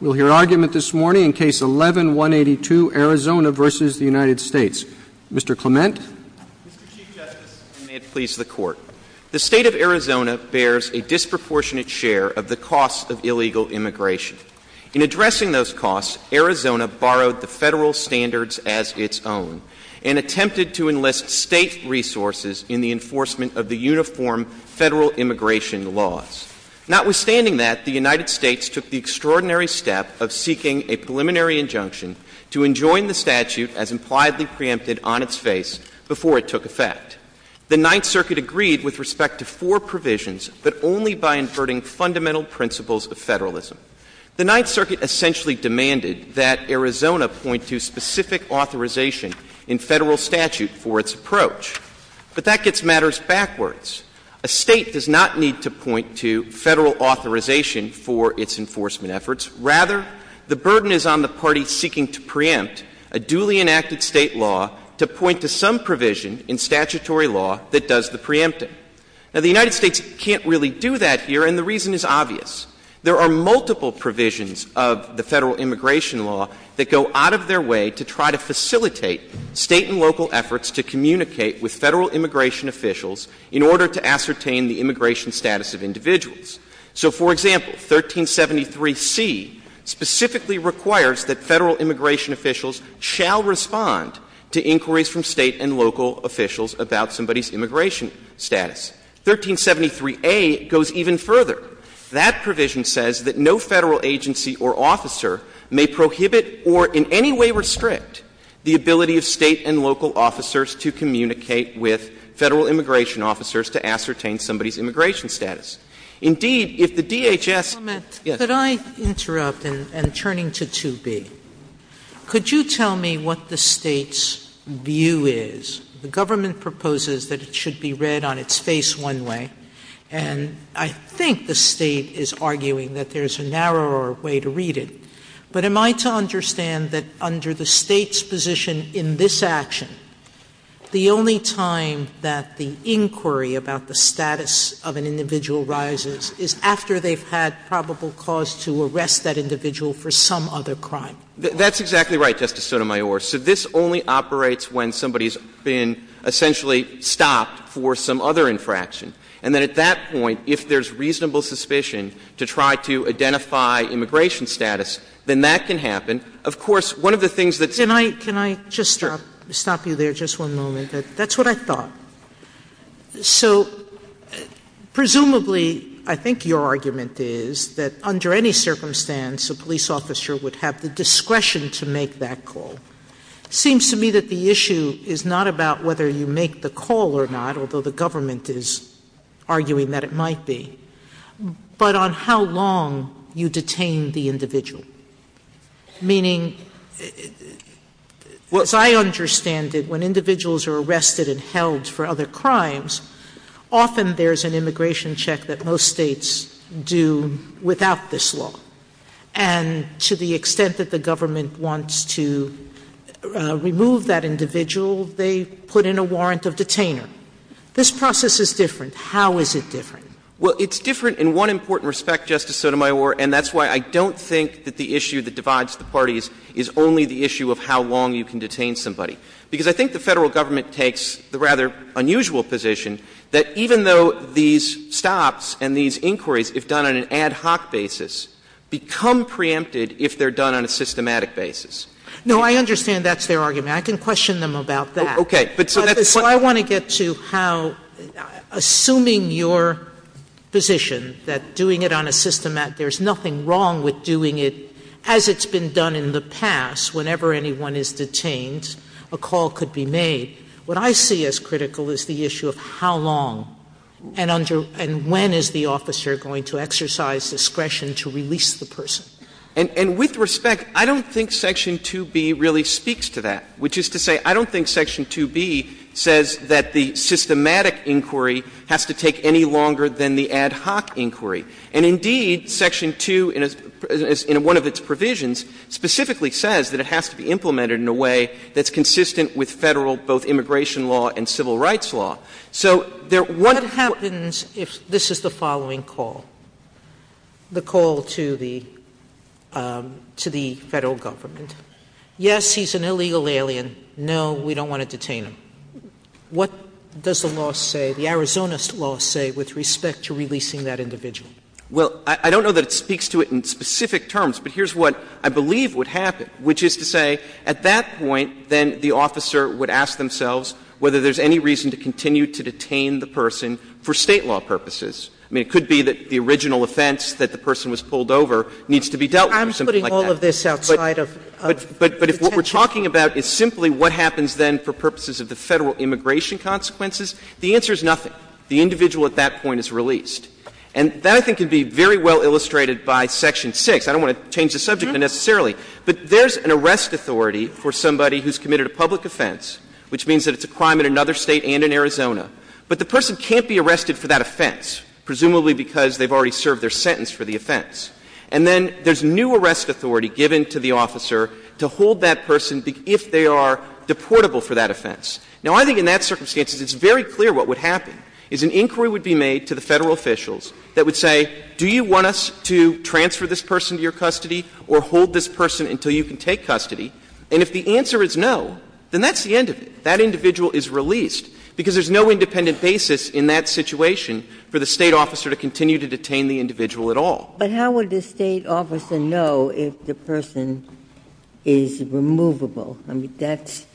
We'll hear argument this morning in Case 11-182, Arizona v. the United States. Mr. Clement. Mr. Chief Justice, and may it please the Court, the State of Arizona bears a disproportionate share of the costs of illegal immigration. In addressing those costs, Arizona borrowed the federal standards as its own and attempted to enlist state resources in the enforcement of the uniform federal immigration laws. Notwithstanding that, the United States took the extraordinary step of seeking a preliminary injunction to enjoin the statute as impliedly preempted on its face before it took effect. The Ninth Circuit agreed with respect to four provisions, but only by inverting fundamental principles of federalism. The Ninth Circuit essentially demanded that Arizona point to specific authorization in federal statute for its approach, but that gets matters backwards. A state does not need to point to federal authorization for its enforcement efforts. Rather, the burden is on the party seeking to preempt a duly enacted state law to point to some provision in statutory law that does the preempting. Now, the United States can't really do that here, and the reason is obvious. There are multiple provisions of the federal immigration law that go out of their way to try to facilitate state and local efforts to communicate with federal immigration officials in order to ascertain the immigration status of individuals. So for example, 1373C specifically requires that federal immigration officials shall respond to inquiries from state and local officials about somebody's immigration status. 1373A goes even further. That provision says that no federal agency or officer may prohibit or in any way restrict the ability of state and local officers to communicate with federal immigration officers to ascertain somebody's immigration status. Indeed, if the DHS... Could I interrupt, and turning to 2B, could you tell me what the state's view is? The government proposes that it should be read on its face one way, and I think the state is arguing that there's a narrower way to read it, but am I to understand that under the state's position in this action, the only time that the inquiry about the status of an individual rises is after they've had probable cause to arrest that individual for some other crime? That's exactly right, Justice Sotomayor. So this only operates when somebody's been essentially stopped for some other infraction, and then at that point, if there's reasonable suspicion to try to identify immigration status, then that can happen. Of course, one of the things that... Can I just stop you there just one moment? That's what I thought. So presumably, I think your argument is that under any circumstance, a police officer would have the discretion to make that call. Seems to me that the issue is not about whether you make the call or not, although the government is arguing that it might be, but on how long you detain the individual. Meaning, as I understand it, when individuals are arrested and held for other crimes, often there's an immigration check that most states do without this law. And to the extent that the government wants to remove that individual, they put in a warrant of detainment. This process is different. How is it different? Well, it's different in one important respect, Justice Sotomayor, and that's why I don't think that the issue that divides the parties is only the issue of how long you can detain somebody, because I think the federal government takes the rather unusual position that even though these stops and these inquiries, if done on an ad hoc basis, become preempted if they're done on a systematic basis. No, I understand that's their argument. I can question them about that. Okay, but... So I want to get to how assuming your position that doing it on a systematic, there's nothing wrong with doing it as it's been done in the past, whenever anyone is detained, a call could be made. What I see as critical is the issue of how long and when is the officer going to exercise discretion to release the person? And with respect, I don't think Section 2B really speaks to that, which is to say I don't think Section 2B says that the systematic inquiry has to take any longer than the ad hoc inquiry. And indeed, Section 2 in one of its provisions specifically says that it has to be implemented in a way that's consistent with federal, both immigration law and civil rights law. So there... What happens if this is the following call? The call to the federal government? Yes, he's an illegal alien. No, we don't want to detain him. What does the law say, the Arizona law say with respect to releasing that individual? Well, I don't know that it speaks to it in specific terms, but here's what I believe would happen, which is to say at that point, then the officer would ask themselves whether there's any reason to continue to detain the person for state law purposes. I mean, it could be that the original offense that the person was pulled over needs to be dealt with or something like that. I'm putting all of this outside of... But if what we're talking about is simply what happens then for purposes of the federal immigration consequences, the answer is nothing. The individual at that point is released. And that I think can be very well illustrated by Section 6. I don't want to change the subject unnecessarily, but there's an arrest authority for somebody who's committed a public offense, which means that it's a crime in another state and in Arizona, but the person can't be arrested for that offense, presumably because they've already served their sentence for the offense. And then there's new arrest authority given to the officer to hold that person if they are deportable for that offense. Now, I think in that circumstance, it's very clear what would happen is an inquiry would be made to the federal officials that would say, do you want us to transfer this person to your custody or hold this person until you can take custody? And if the answer is no, then that's the end of it. That individual is released because there's no independent basis in that situation for the state officer to continue to detain the individual at all. But how would the state officer know if the person is removable? I mean, that's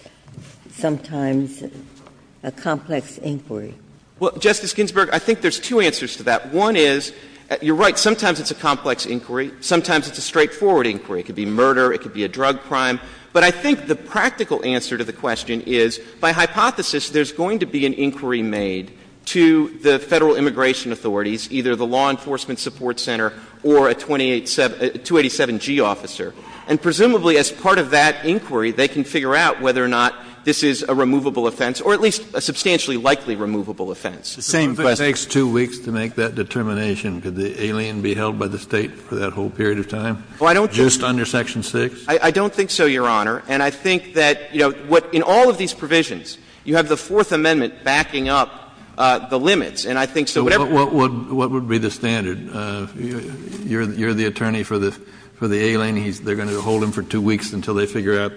sometimes a complex inquiry. Well, Justice Ginsburg, I think there's two answers to that. One is you're right. Sometimes it's a complex inquiry. Sometimes it's a straightforward inquiry. It could be murder. It could be a drug crime. But I think the practical answer to the question is, by hypothesis, there's going to be an inquiry made to the federal immigration authorities, either the law enforcement support center or a 287G officer. And presumably, as part of that inquiry, they can figure out whether or not this is a removable offense or at least a substantially likely removable offense. It takes two weeks to make that determination. Could the alien be held by the state for that whole period of time just under Section 6? I don't think so, Your Honor. And I think that in all of these provisions, you have the Fourth Amendment backing up the limits. And I think so. What would be the standard? You're the attorney for the alien. They're going to hold him for two weeks until they figure out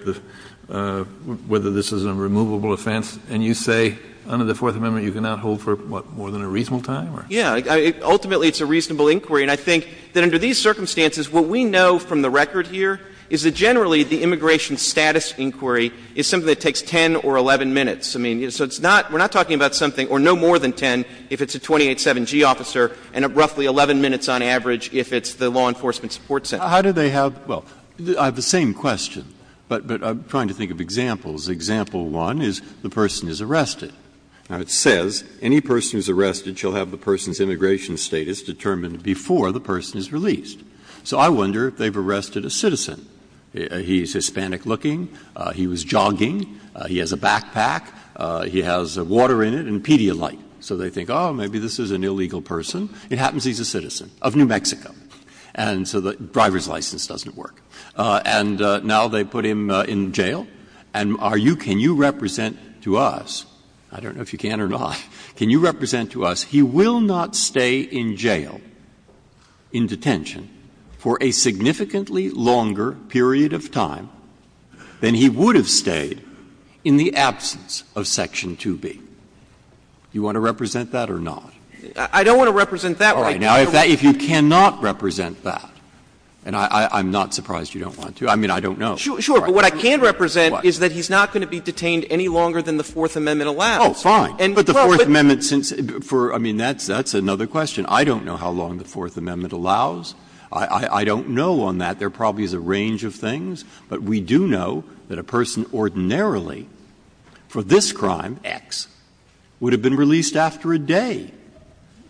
whether this is a removable offense. And you say under the Fourth Amendment, you cannot hold for, what, more than a reasonable time? Yeah, ultimately, it's a reasonable inquiry. And I think that under these circumstances, what we know from the record here is that generally the immigration status inquiry is something that takes 10 or 11 minutes. I mean, it's not we're not talking about something or no more than 10 if it's a 28 7G officer and roughly 11 minutes on average if it's the law enforcement support center. How do they have? Well, I have the same question, but I'm trying to think of examples. Example one is the person is arrested. Now, it says any person who's arrested shall have the person's immigration status determined before the person is released. So I wonder if they've arrested a citizen. He's Hispanic looking. He was jogging. He has a backpack. He has water in it and Pedialyte. So they think, oh, maybe this is an illegal person. It happens he's a citizen of New Mexico. And so the driver's license doesn't work. And now they put him in jail. And are you can you represent to us? I don't know if you can or not. Can you represent to us? He will not stay in jail. In detention for a significantly longer period of time than he would have stayed in the absence of section to be. You want to represent that or not? I don't want to represent that right now. If you cannot represent that and I'm not surprised you don't want to. I mean, I don't know. Sure. Sure. But what I can represent is that he's not going to be detained any longer than the Fourth Amendment allows. Oh, fine. And for the Fourth Amendment, since for I mean, that's that's another question. I don't know how long the Fourth Amendment allows. I don't know on that. There probably is a range of things. But we do know that a person ordinarily for this crime X would have been released after a day.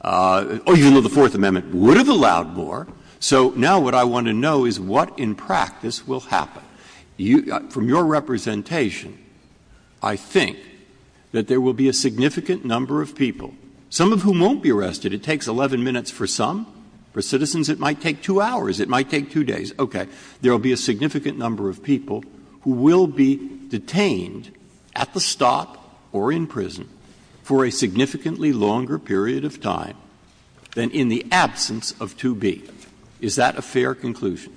Oh, you know, the Fourth Amendment would have allowed more. So now what I want to know is what in practice will happen from your representation. I think that there will be a significant number of people, some of whom won't be arrested. It takes 11 minutes for some for citizens. It might take two hours. It might take two days. OK, there will be a significant number of people who will be detained at the stop or in prison for a significantly longer period of time than in the absence of to be. Is that a fair conclusion?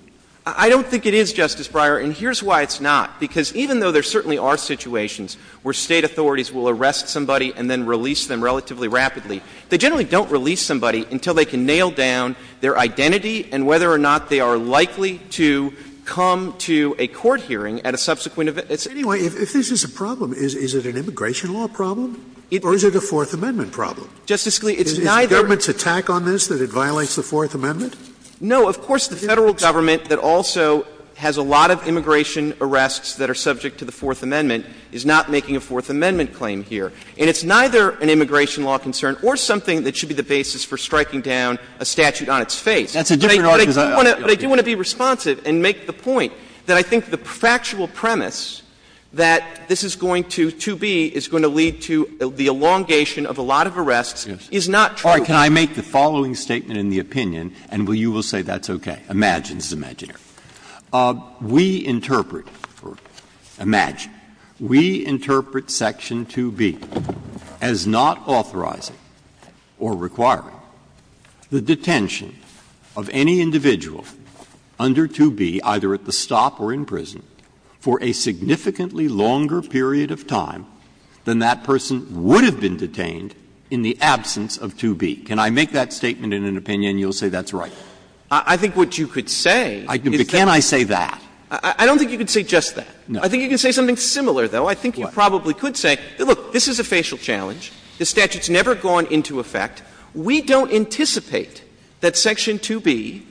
I don't think it is, Justice Breyer. And here's why it's not, because even though there certainly are situations where state authorities will arrest somebody and then release them relatively rapidly, they generally don't release somebody until they can nail down their identity and whether or not they are likely to come to a court hearing at a subsequent. It's anyway, if this is a problem, is it an immigration law problem or is it a Fourth Amendment problem? Justice Scalia, it is not government's attack on this that it violates the Fourth Amendment. No, of course, the federal government that also has a lot of immigration arrests that are subject to the Fourth Amendment is not making a Fourth Amendment claim here. And it's neither an immigration law concern or something that should be the basis for striking down a statute on its face. That's a different argument. They do want to be responsive and make the point that I think the factual premise that this is going to be is going to lead to the elongation of a lot of arrests is not. Can I make the following statement in the opinion? And you will say that's OK. Imagine, imagine we interpret or imagine we interpret Section 2B as not authorizing or requiring the detention of any individual under 2B, either at the stop or in prison, for a significantly longer period of time than that person would have been detained in the absence of 2B. Can I make that statement in an opinion? You'll say that's right. I think what you could say. Can I say that? I don't think you could say just that. I think you can say something similar, though. I think you probably could say, look, this is a facial challenge. The statute's never gone into effect. We don't anticipate that Section 2B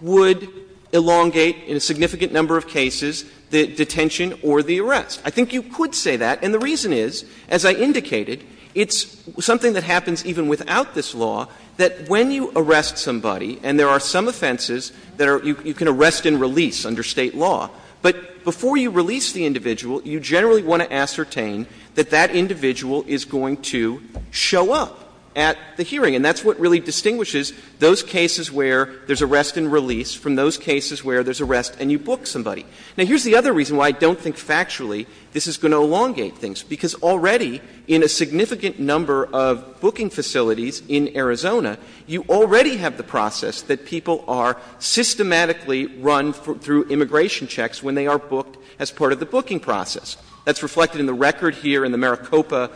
would elongate in a significant number of cases the detention or the arrests. I think you could say that. And the reason is, as I indicated, it's something that happens even without this law, that when you arrest somebody, and there are some offenses that you can arrest and release under State law, but before you release the individual, you generally want to ascertain that that individual is going to show up at the hearing. And that's what really distinguishes those cases where there's arrest and release from those cases where there's arrest and you book somebody. Now, here's the other reason why I don't think factually this is going to elongate things, because already in a significant number of booking facilities in Arizona, you already have the process that people are systematically run through immigration checks when they are booked as part of the booking process. That's reflected in the record here in the Maricopa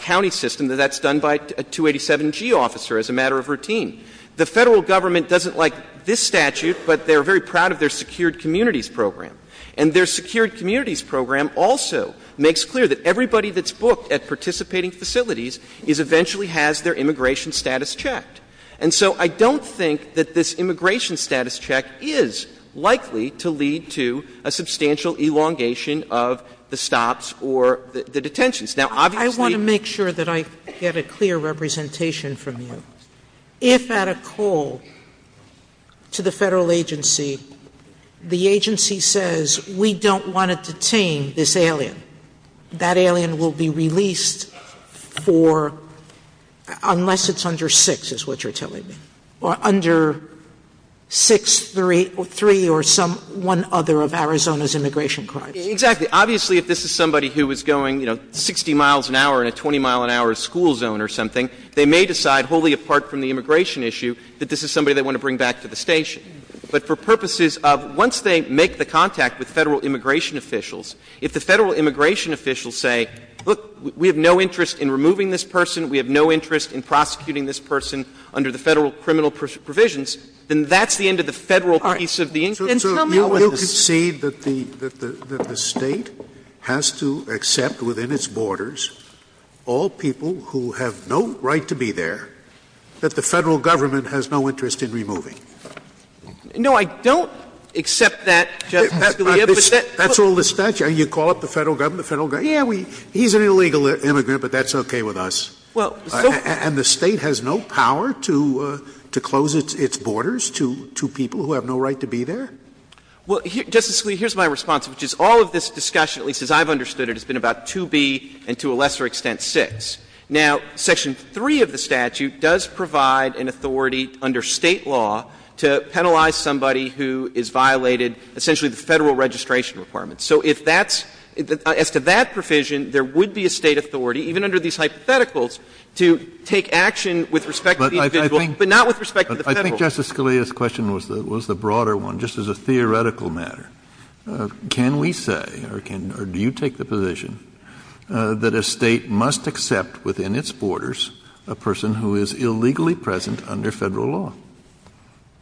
County system, that that's done by a 287G officer as a matter of routine. The federal government doesn't like this statute, but they're very proud of their Secured Communities Program. And their Secured Communities Program also makes clear that everybody that's booked at participating facilities is eventually has their immigration status checked. And so I don't think that this immigration status check is likely to lead to a substantial elongation of the stops or the detentions. Now, obviously- I want to make sure that I get a clear representation from you. If at a call to the federal agency, the agency says, we don't want to detain this alien, that alien will be released for, unless it's under six is what you're telling me, or under six, three, or one other of Arizona's immigration crimes. Exactly. Obviously, if this is somebody who is going, you know, 60 miles an hour in a 20-mile-an-hour school zone or something, they may decide, wholly apart from the immigration issue, that this is somebody they want to bring back to the station. But for purposes of-once they make the contact with federal immigration officials, if the federal immigration officials say, look, we have no interest in removing this person, we have no interest in prosecuting this person under the federal criminal provisions, then that's the end of the federal piece of the- And so you concede that the state has to accept within its borders all people who have no right to be there, that the federal government has no interest in removing? No, I don't accept that, Judge Scalia, but that- That's all the statute. And you call up the federal government, the federal government, yeah, we-he's an illegal immigrant, but that's okay with us. And the state has no power to close its borders to people who have no right to be there? Well, Justice Scalia, here's my response, which is all of this discussion, at least as I've understood it, has been about 2B and to a lesser extent 6. Now, Section 3 of the statute does provide an authority under state law to penalize somebody who is violated essentially the federal registration requirements. So if that's-as to that provision, there would be a state authority, even under these hypotheticals, to take action with respect to the individual, but not with respect to the federal- But I think Justice Scalia's question was the broader one, just as a theoretical matter. Can we say, or do you take the position, that a state must accept within its borders a person who is illegally present under federal law?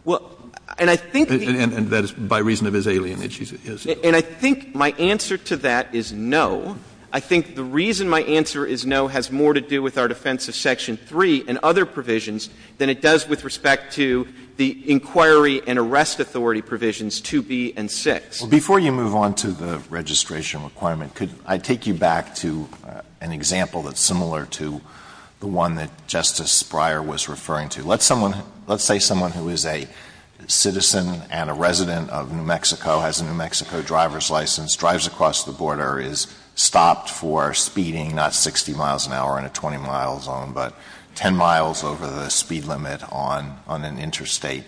Well, and I think- And that is by reason of his alienation, is it? And I think my answer to that is no. I think the reason my answer is no has more to do with our defense of Section 3 and other provisions than it does with respect to the inquiry and arrest authority provisions 2B and 6. Before you move on to the registration requirement, could I take you back to an example that's similar to the one that Justice Breyer was referring to? Let someone-let's say someone who is a citizen and a resident of New Mexico, has a New Mexico driver's license, drives across the border, is stopped for speeding not 60 miles an hour in a 20-mile zone, but 10 miles over the speed limit on an interstate.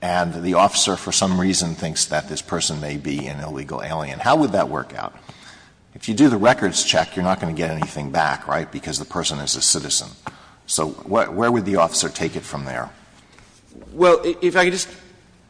And the officer, for some reason, thinks that this person may be an illegal alien. How would that work out? If you do the records check, you're not going to get anything back, right? Because the person is a citizen. So where would the officer take it from there? Well, if I could just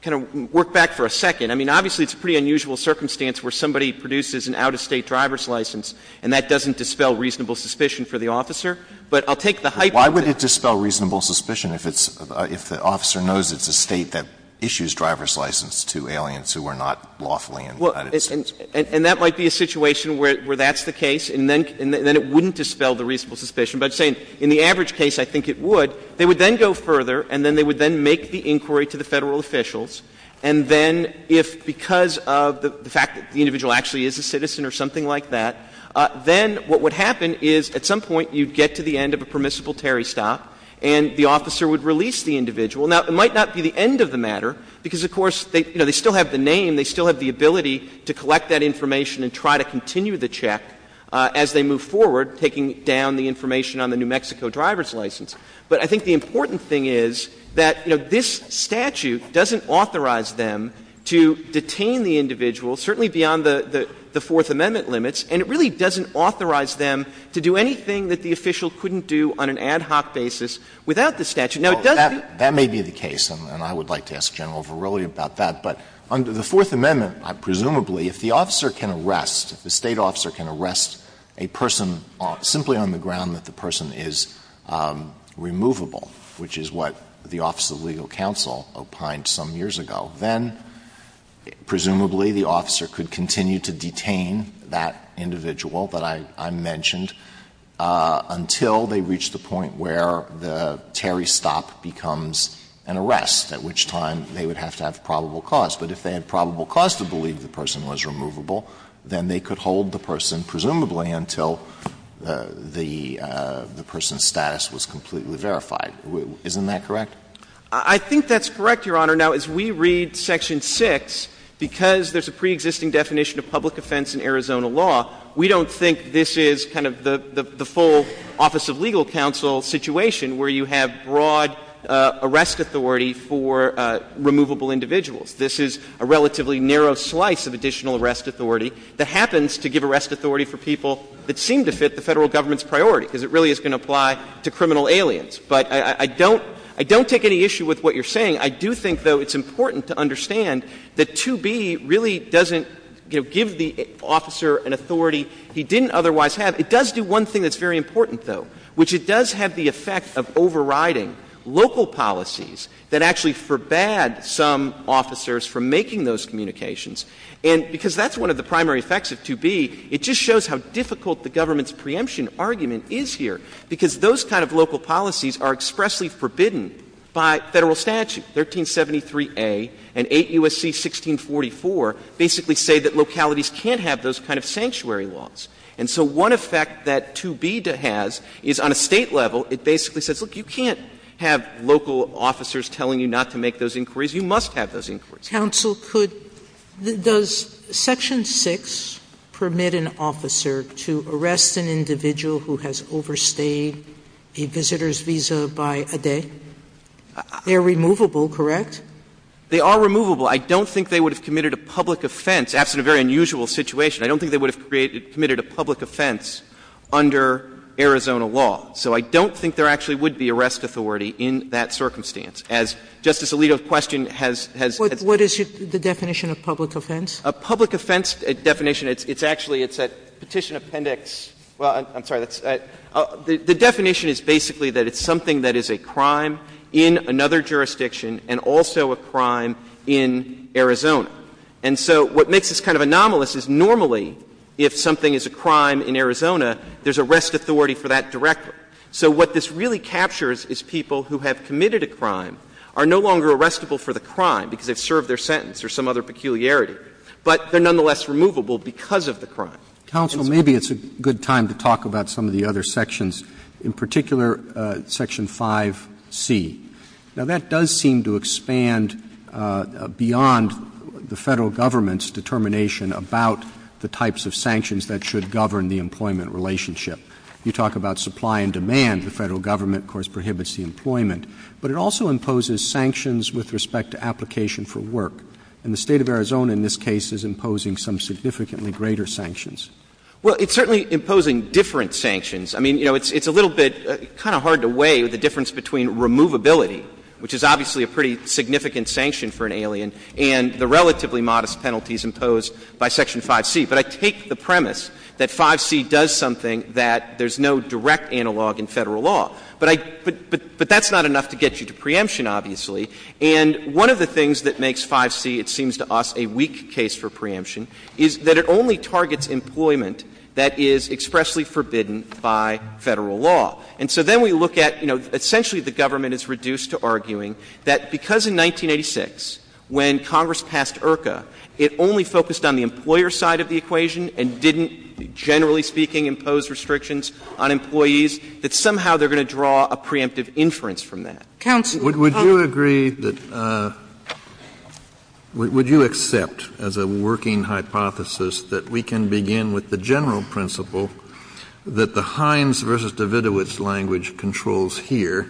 kind of work back for a second. I mean, obviously, it's a pretty unusual circumstance where somebody produces an out-of-state driver's license and that doesn't dispel reasonable suspicion for the officer. But I'll take the hypothesis- Why would it dispel reasonable suspicion if it's-if the officer knows it's a state that issues driver's licenses to aliens who are not lawfully in- Well, and that might be a situation where that's the case and then it wouldn't dispel the reasonable suspicion. But I'm saying, in the average case, I think it would. So, they would then go further and then they would then make the inquiry to the federal officials. And then, if because of the fact that the individual actually is a citizen or something like that, then what would happen is, at some point, you'd get to the end of a permissible tariff stop and the officer would release the individual. Now, it might not be the end of the matter, because, of course, they still have the name, they still have the ability to collect that information and try to continue the check as they move forward, taking down the information on the New Mexico driver's license. But I think the important thing is that, you know, this statute doesn't authorize them to detain the individual, certainly beyond the Fourth Amendment limits, and it really doesn't authorize them to do anything that the official couldn't do on an ad hoc basis without the statute. Now, it doesn't- That may be the case, and I would like to ask General Verrilli about that. But under the Fourth Amendment, presumably, if the officer can arrest, if the state officer can arrest a person simply on the ground that the person is removable, which is what the Office of Legal Counsel opined some years ago, then presumably the officer could continue to detain that individual that I mentioned until they reach the point where the tariff stop becomes an arrest, at which time they would have to have probable cause. But if they had probable cause to believe the person was removable, then they could hold the person, presumably, until the person's status was completely verified. Isn't that correct? I think that's correct, Your Honor. Now, as we read Section 6, because there's a preexisting definition of public offense in Arizona law, we don't think this is kind of the full Office of Legal Counsel situation where you have broad arrest authority for removable individuals. This is a relatively narrow slice of additional arrest authority that happens to give arrest authority for people that seem to fit the federal government's priority, because it really is going to apply to criminal aliens. But I don't take any issue with what you're saying. I do think, though, it's important to understand that 2B really doesn't give the officer an authority he didn't otherwise have. It does do one thing that's very important, though, which it does have the effect of overriding local policies that actually forbade some officers from making those communications. And because that's one of the primary effects of 2B, it just shows how difficult the government's preemption argument is here, because those kind of local policies are expressly forbidden by federal statute. 1373A and 8 U.S.C. 1644 basically say that localities can't have those kind of sanctuary laws. And so one effect that 2B has is, on a state level, it basically says, look, you can't have local officers telling you not to make those inquiries. You must have those inquiries. Counsel, does Section 6 permit an officer to arrest an individual who has overstayed a visitor's visa by a day? They're removable, correct? They are removable. I don't think they would have committed a public offense, as in a very unusual situation. I don't think they would have committed a public offense under Arizona law. So I don't think there actually would be arrest authority in that circumstance, as Justice Alito's question has said. What is the definition of public offense? A public offense definition, it's actually, it's a petition appendix. Well, I'm sorry, the definition is basically that it's something that is a crime in another jurisdiction and also a crime in Arizona. And so what makes this kind of anomalous is normally, if something is a crime in Arizona, there's arrest authority for that directly. So what this really captures is people who have committed a crime are no longer arrestable for the crime because they've served their sentence or some other peculiarity. But they're nonetheless removable because of the crime. Counsel, maybe it's a good time to talk about some of the other sections. In particular, Section 5C. Now that does seem to expand beyond the federal government's determination about the types of sanctions that should govern the employment relationship. You talk about supply and demand. The federal government, of course, prohibits the employment. But it also imposes sanctions with respect to application for work. And the state of Arizona, in this case, is imposing some significantly greater sanctions. Well, it's certainly imposing different sanctions. I mean, you know, it's a little bit kind of hard to weigh the difference between removability, which is obviously a pretty significant sanction for an alien, and the relatively modest penalties imposed by Section 5C. But I take the premise that 5C does something that there's no direct analog in federal law. But that's not enough to get you to preemption, obviously. And one of the things that makes 5C, it seems to us, a weak case for preemption, is that it only targets employment that is expressly forbidden by federal law. And so then we look at, you know, essentially the government is reduced to arguing that because in 1986, when Congress passed IRCA, it only focused on the employer side of the equation and didn't, generally speaking, impose restrictions on employees, that somehow they're going to draw a preemptive inference from that. Counsel. Would you agree that, would you accept, as a working hypothesis, that we can begin with the general principle that the Hines versus Davidovich language controls here,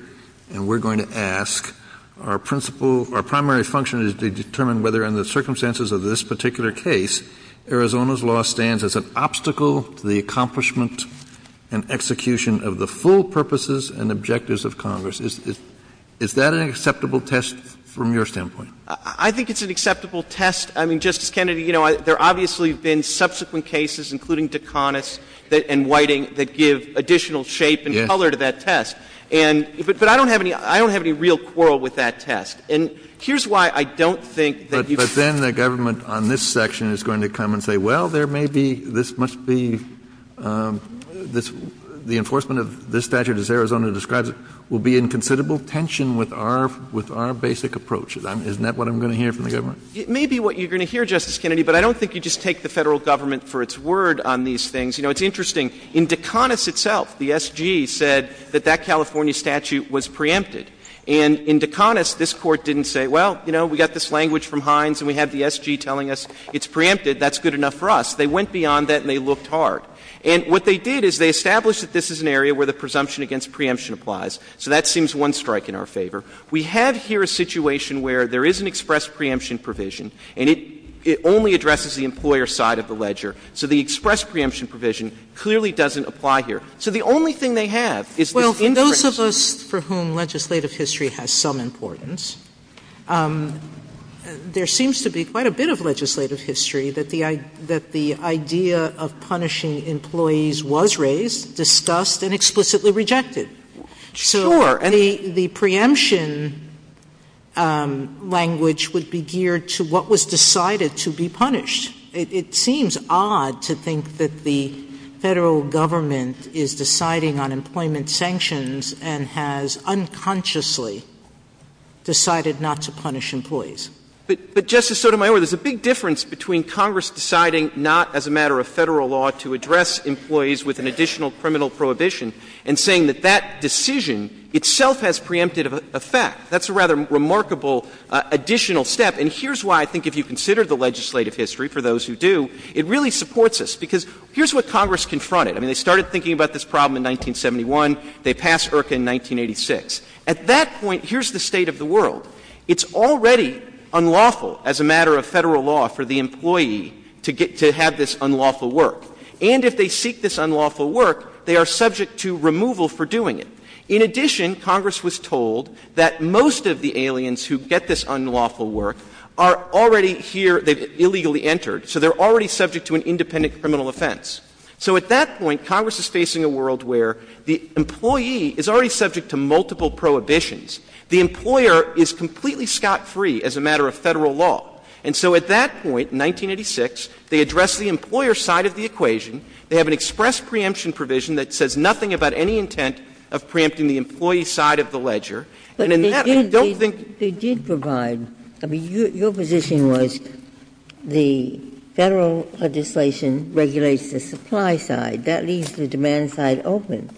and we're going to ask our principle, our primary function is to determine whether in the circumstances of this particular case, Arizona's law stands as an obstacle to the accomplishment and execution of the full purposes and objectives of Congress? Is that an acceptable test from your standpoint? I think it's an acceptable test. I mean, Justice Kennedy, you know, there obviously have been subsequent cases, including DeConnett's and Whiting, that give additional shape and color to that test. And, but I don't have any, I don't have any real quarrel with that test. And here's why I don't think that you can. But then the government on this section is going to come and say, well, there may be, this must be, the enforcement of this statute, as Arizona describes it, will be in considerable tension with our basic approach. Isn't that what I'm going to hear from the government? It may be what you're going to hear, Justice Kennedy, but I don't think you just take the federal government for its word on these things. You know, it's interesting. In DeConnett's itself, the SG said that that California statute was preempted. And in DeConnett's, this court didn't say, well, you know, we got this language from Hines and we have the SG telling us it's preempted, that's good enough for us. They went beyond that and they looked hard. And what they did is they established that this is an area where the presumption against preemption applies. So that seems one strike in our favor. We have here a situation where there is an express preemption provision and it only addresses the employer's side of the ledger. So the express preemption provision clearly doesn't apply here. So the only thing they have is the interest. Well, for those of us for whom legislative history has some importance, there seems to be quite a bit of legislative history that the idea of punishing employees was raised, discussed, and explicitly rejected. Sure. I mean, the preemption language would be geared to what was decided to be punished. It seems odd to think that the federal government is deciding on employment sanctions and has unconsciously decided not to punish employees. But Justice Sotomayor, there's a big difference between Congress deciding not as a matter of federal law to address employees with an additional criminal prohibition and saying that that decision itself has preempted effect. That's a rather remarkable additional step. And here's why I think if you consider the legislative history, for those who do, it really supports us because here's what Congress confronted. I mean, they started thinking about this problem in 1971. They passed IRCA in 1986. At that point, here's the state of the world. It's already unlawful as a matter of federal law for the employee to have this unlawful work. And if they seek this unlawful work, they are subject to removal for doing it. In addition, Congress was told that most of the aliens who get this unlawful work are already here. They've illegally entered. So they're already subject to an independent criminal offense. So at that point, Congress is facing a world where the employee is already subject to multiple prohibitions. The employer is completely scot-free as a matter of federal law. And so at that point, 1986, they address the employer side of the equation. They have an express preemption provision that says nothing about any intent of preempting the employee side of the ledger. And in that, I don't think they did provide. I mean, your position was the federal legislation regulates the supply side. That leaves the demand side open.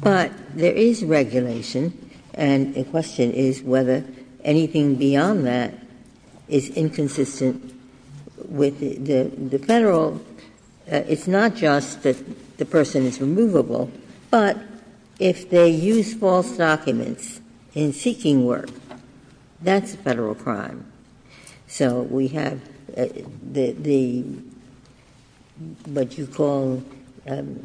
But there is regulation. And the question is whether anything beyond that is inconsistent with the federal. It's not just that the person is removable. But if they use false documents in seeking work, that's a federal crime. So we have the, what you call, the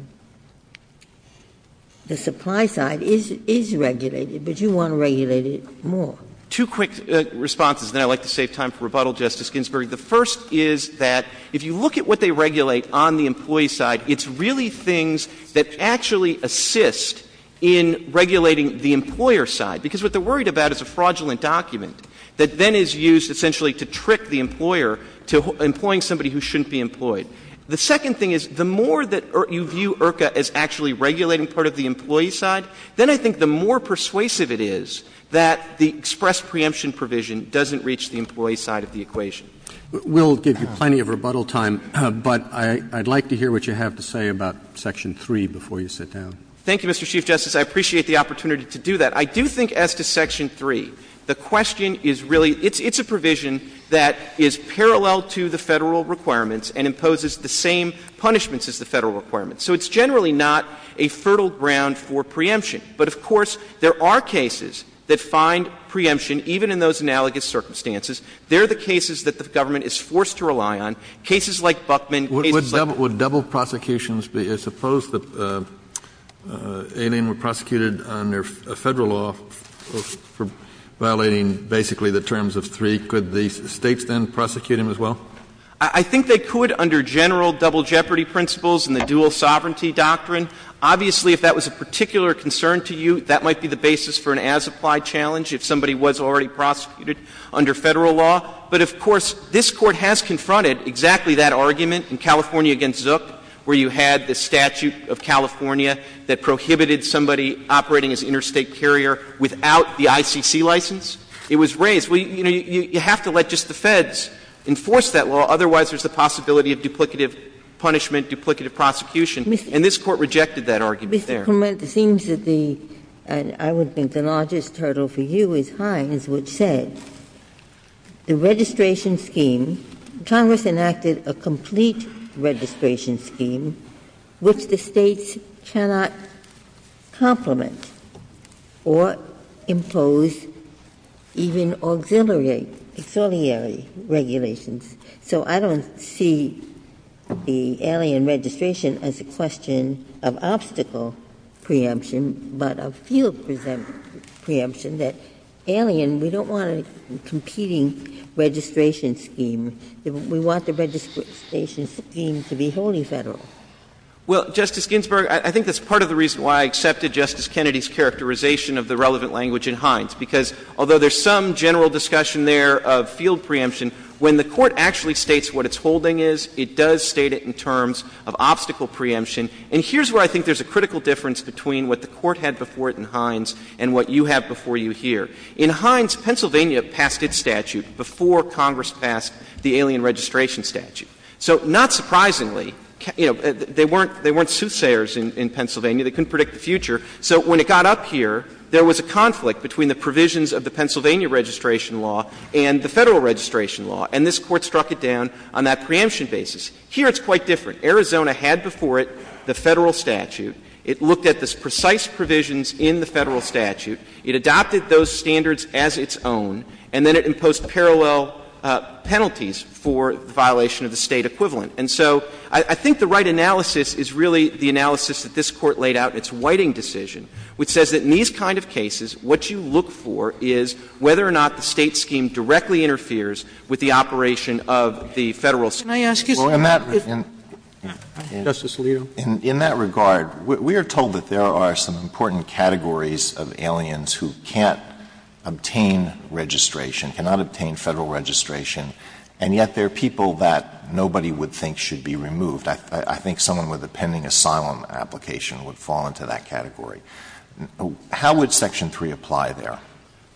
supply side is regulated. But you want to regulate it more. Two quick responses. And I'd like to save time for rebuttal, Justice Ginsburg. The first is that if you look at what they regulate on the employee side, it's really things that actually assist in regulating the employer side. Because what they're worried about is a fraudulent document that then is used essentially to trick the employer to employing somebody who shouldn't be employed. The second thing is the more that you view IRCA as actually regulating part of the employee side, then I think the more persuasive it is that the express preemption provision doesn't reach the employee side of the equation. We'll give you plenty of rebuttal time, but I'd like to hear what you have to say about Section 3 before you sit down. Thank you, Mr. Chief Justice. I appreciate the opportunity to do that. I do think as to Section 3, the question is really, it's a provision that is parallel to the federal requirements and imposes the same punishments as the federal requirements. So it's generally not a fertile ground for preemption. But of course, there are cases that find preemption even in those analogous circumstances. They're the cases that the government is forced to rely on. Cases like Buckman. Would double prosecutions be as opposed to aiding or prosecuted under a federal law for violating basically the terms of 3, could the states then prosecute him as well? I think they could under general double jeopardy principles and the dual sovereignty doctrine. Obviously, if that was a particular concern to you, that might be the basis for an as-applied challenge if somebody was already prosecuted under federal law. But of course, this Court has confronted exactly that argument in California against Zook where you had the statute of California that prohibited somebody operating as an interstate carrier without the ICC license. It was raised. You know, you have to let just the feds enforce that law. Otherwise, there's the possibility of duplicative punishment, duplicative prosecution. And this Court rejected that argument there. It seems that the, and I would think the largest hurdle for you is Hines, which says the registration scheme, Congress enacted a complete registration scheme which the states cannot complement or impose even auxiliary regulations. So I don't see the alien registration as a question of obstacle preemption, but of field preemption that alien, we don't want a competing registration scheme. We want the registration scheme to be wholly federal. Well, Justice Ginsburg, I think that's part of the reason why I accepted Justice Kennedy's characterization of the relevant language in Hines. Because although there's some general discussion there of field preemption, when the Court actually states what its holding is, it does state it in terms of obstacle preemption, and here's where I think there's a critical difference between what the Court had before it in Hines and what you have before you here. In Hines, Pennsylvania passed its statute before Congress passed the alien registration statute. So not surprisingly, you know, they weren't soothsayers in Pennsylvania. They couldn't predict the future. So when it got up here, there was a conflict between the provisions of the Pennsylvania registration law and the federal registration law, and this Court struck it down on that preemption basis. Here, it's quite different. Arizona had before it the federal statute. It looked at the precise provisions in the federal statute. It adopted those standards as its own, and then it imposed parallel penalties for violation of the state equivalent. And so I think the right analysis is really the analysis that this Court laid out in its Whiting decision, which says that in these kind of cases, what you look for is whether or not the state scheme directly interferes with the operation of the federal. May I ask you? Well, in that regard, we are told that there are some important categories of aliens who can't obtain registration, cannot obtain federal registration, and yet there are people that nobody would think should be removed. I think someone with a pending asylum application would fall into that category. How would Section 3 apply there?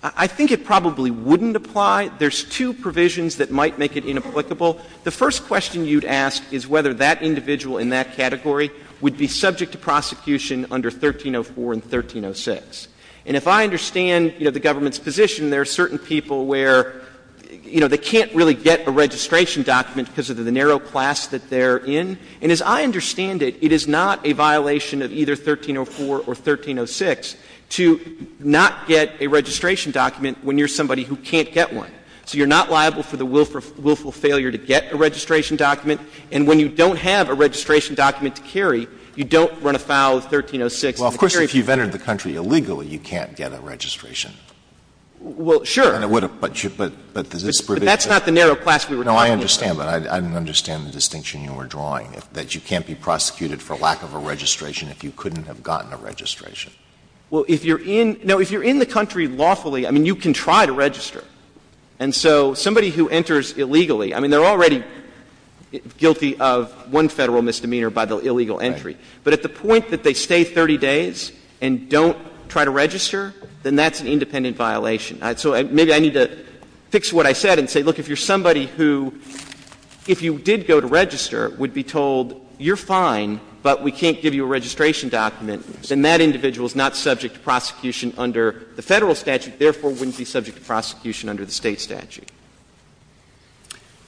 I think it probably wouldn't apply. There's two provisions that might make it inapplicable. The first question you'd ask is whether that individual in that category would be subject to prosecution under 1304 and 1306. And if I understand, you know, the government's position, there are certain people where, you know, they can't really get a registration document because of the narrow class that they're in. So you're not liable for the willful failure to get a registration document. And when you don't have a registration document to carry, you don't run afoul of 1306. Well, of course, if you've entered the country illegally, you can't get a registration. Well, sure. But that's not the narrow class we were talking about. No, I understand, but I don't understand the distinction you were drawing, that you can't be prosecuted for lack of a registration if you couldn't have gotten a registration. Well, if you're in the country lawfully, I mean, you can try to register. And so somebody who enters illegally, I mean, they're already guilty of one federal misdemeanor by the illegal entry. But at the point that they stay 30 days and don't try to register, then that's an independent violation. So maybe I need to fix what I said and say, look, if you're somebody who, if you did go to register, would be told, you're fine, but we can't give you a registration document, then that individual is not subject to prosecution under the federal statute, therefore wouldn't be subject to prosecution under the state statute.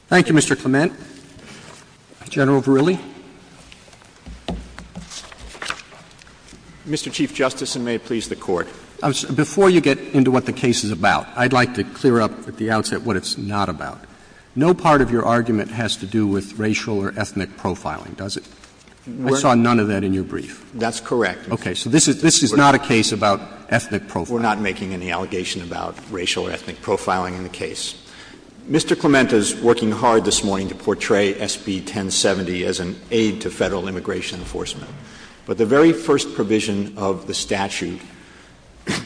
Thank you, Mr. Clement. General Verrilli. Mr. Chief Justice, and may it please the Court. Before you get into what the case is about, I'd like to clear up at the outset what it's not about. No part of your argument has to do with racial or ethnic profiling, does it? I saw none of that in your brief. That's correct. Okay. So this is not a case about ethnic profiling. We're not making any allegation about racial or ethnic profiling in the case. Mr. Clement is working hard this morning to portray SB 1070 as an aid to federal immigration enforcement. But the very first provision of the statute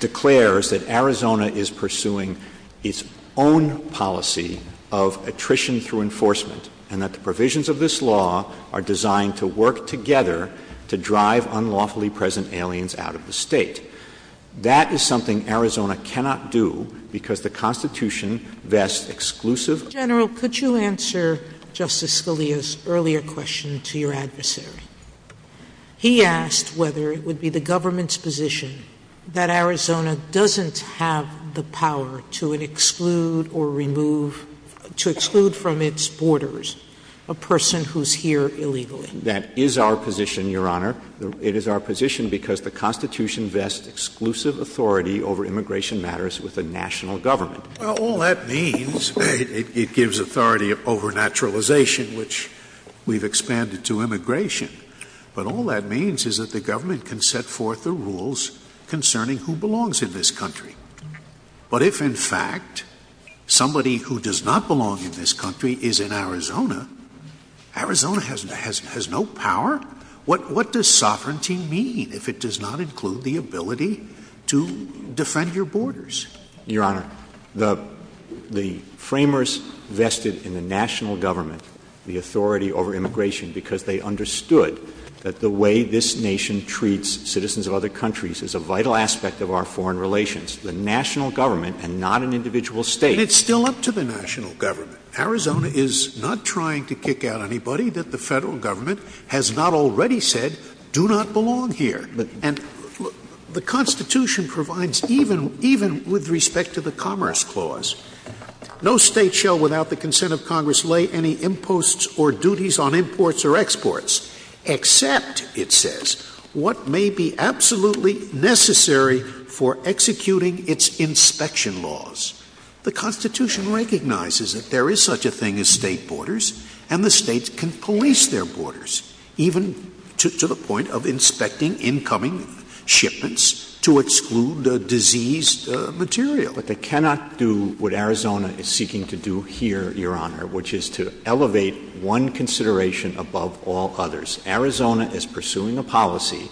declares that Arizona is pursuing its own policy of attrition through enforcement, and that the provisions of this law are designed to work together to drive unlawfully present aliens out of the state. That is something Arizona cannot do, because the Constitution vests exclusive... General, could you answer Justice Scalia's earlier question to your adversary? He asked whether it would be the government's position that Arizona doesn't have the power to exclude or remove, to exclude from its borders, a person who's here illegally. That is our position, Your Honor. It is our position because the Constitution vests exclusive authority over immigration matters with the national government. Well, all that means, it gives authority over naturalization, which we've expanded to immigration. But all that means is that the government can set forth the rules concerning who belongs in this country. But if, in fact, somebody who does not belong in this country is in Arizona, Arizona has no power? What does sovereignty mean if it does not include the ability to defend your borders? Your Honor, the framers vested in the national government the authority over immigration because they understood that the way this nation treats citizens of other countries is a vital aspect of our foreign relations. The national government and not an individual state. But it's still up to the national government. Arizona is not trying to kick out anybody that the federal government has not already said do not belong here. And the Constitution provides even with respect to the Commerce Clause, no state shall without the consent of Congress lay any imposts or duties on imports or exports except, it says, what may be absolutely necessary for executing its inspection laws. The Constitution recognizes that there is such a thing as state borders and the states can police their borders even to the point of inspecting incoming shipments to exclude the diseased material. But they cannot do what Arizona is seeking to do here, Your Honor, which is to elevate one consideration above all others. Arizona is pursuing a policy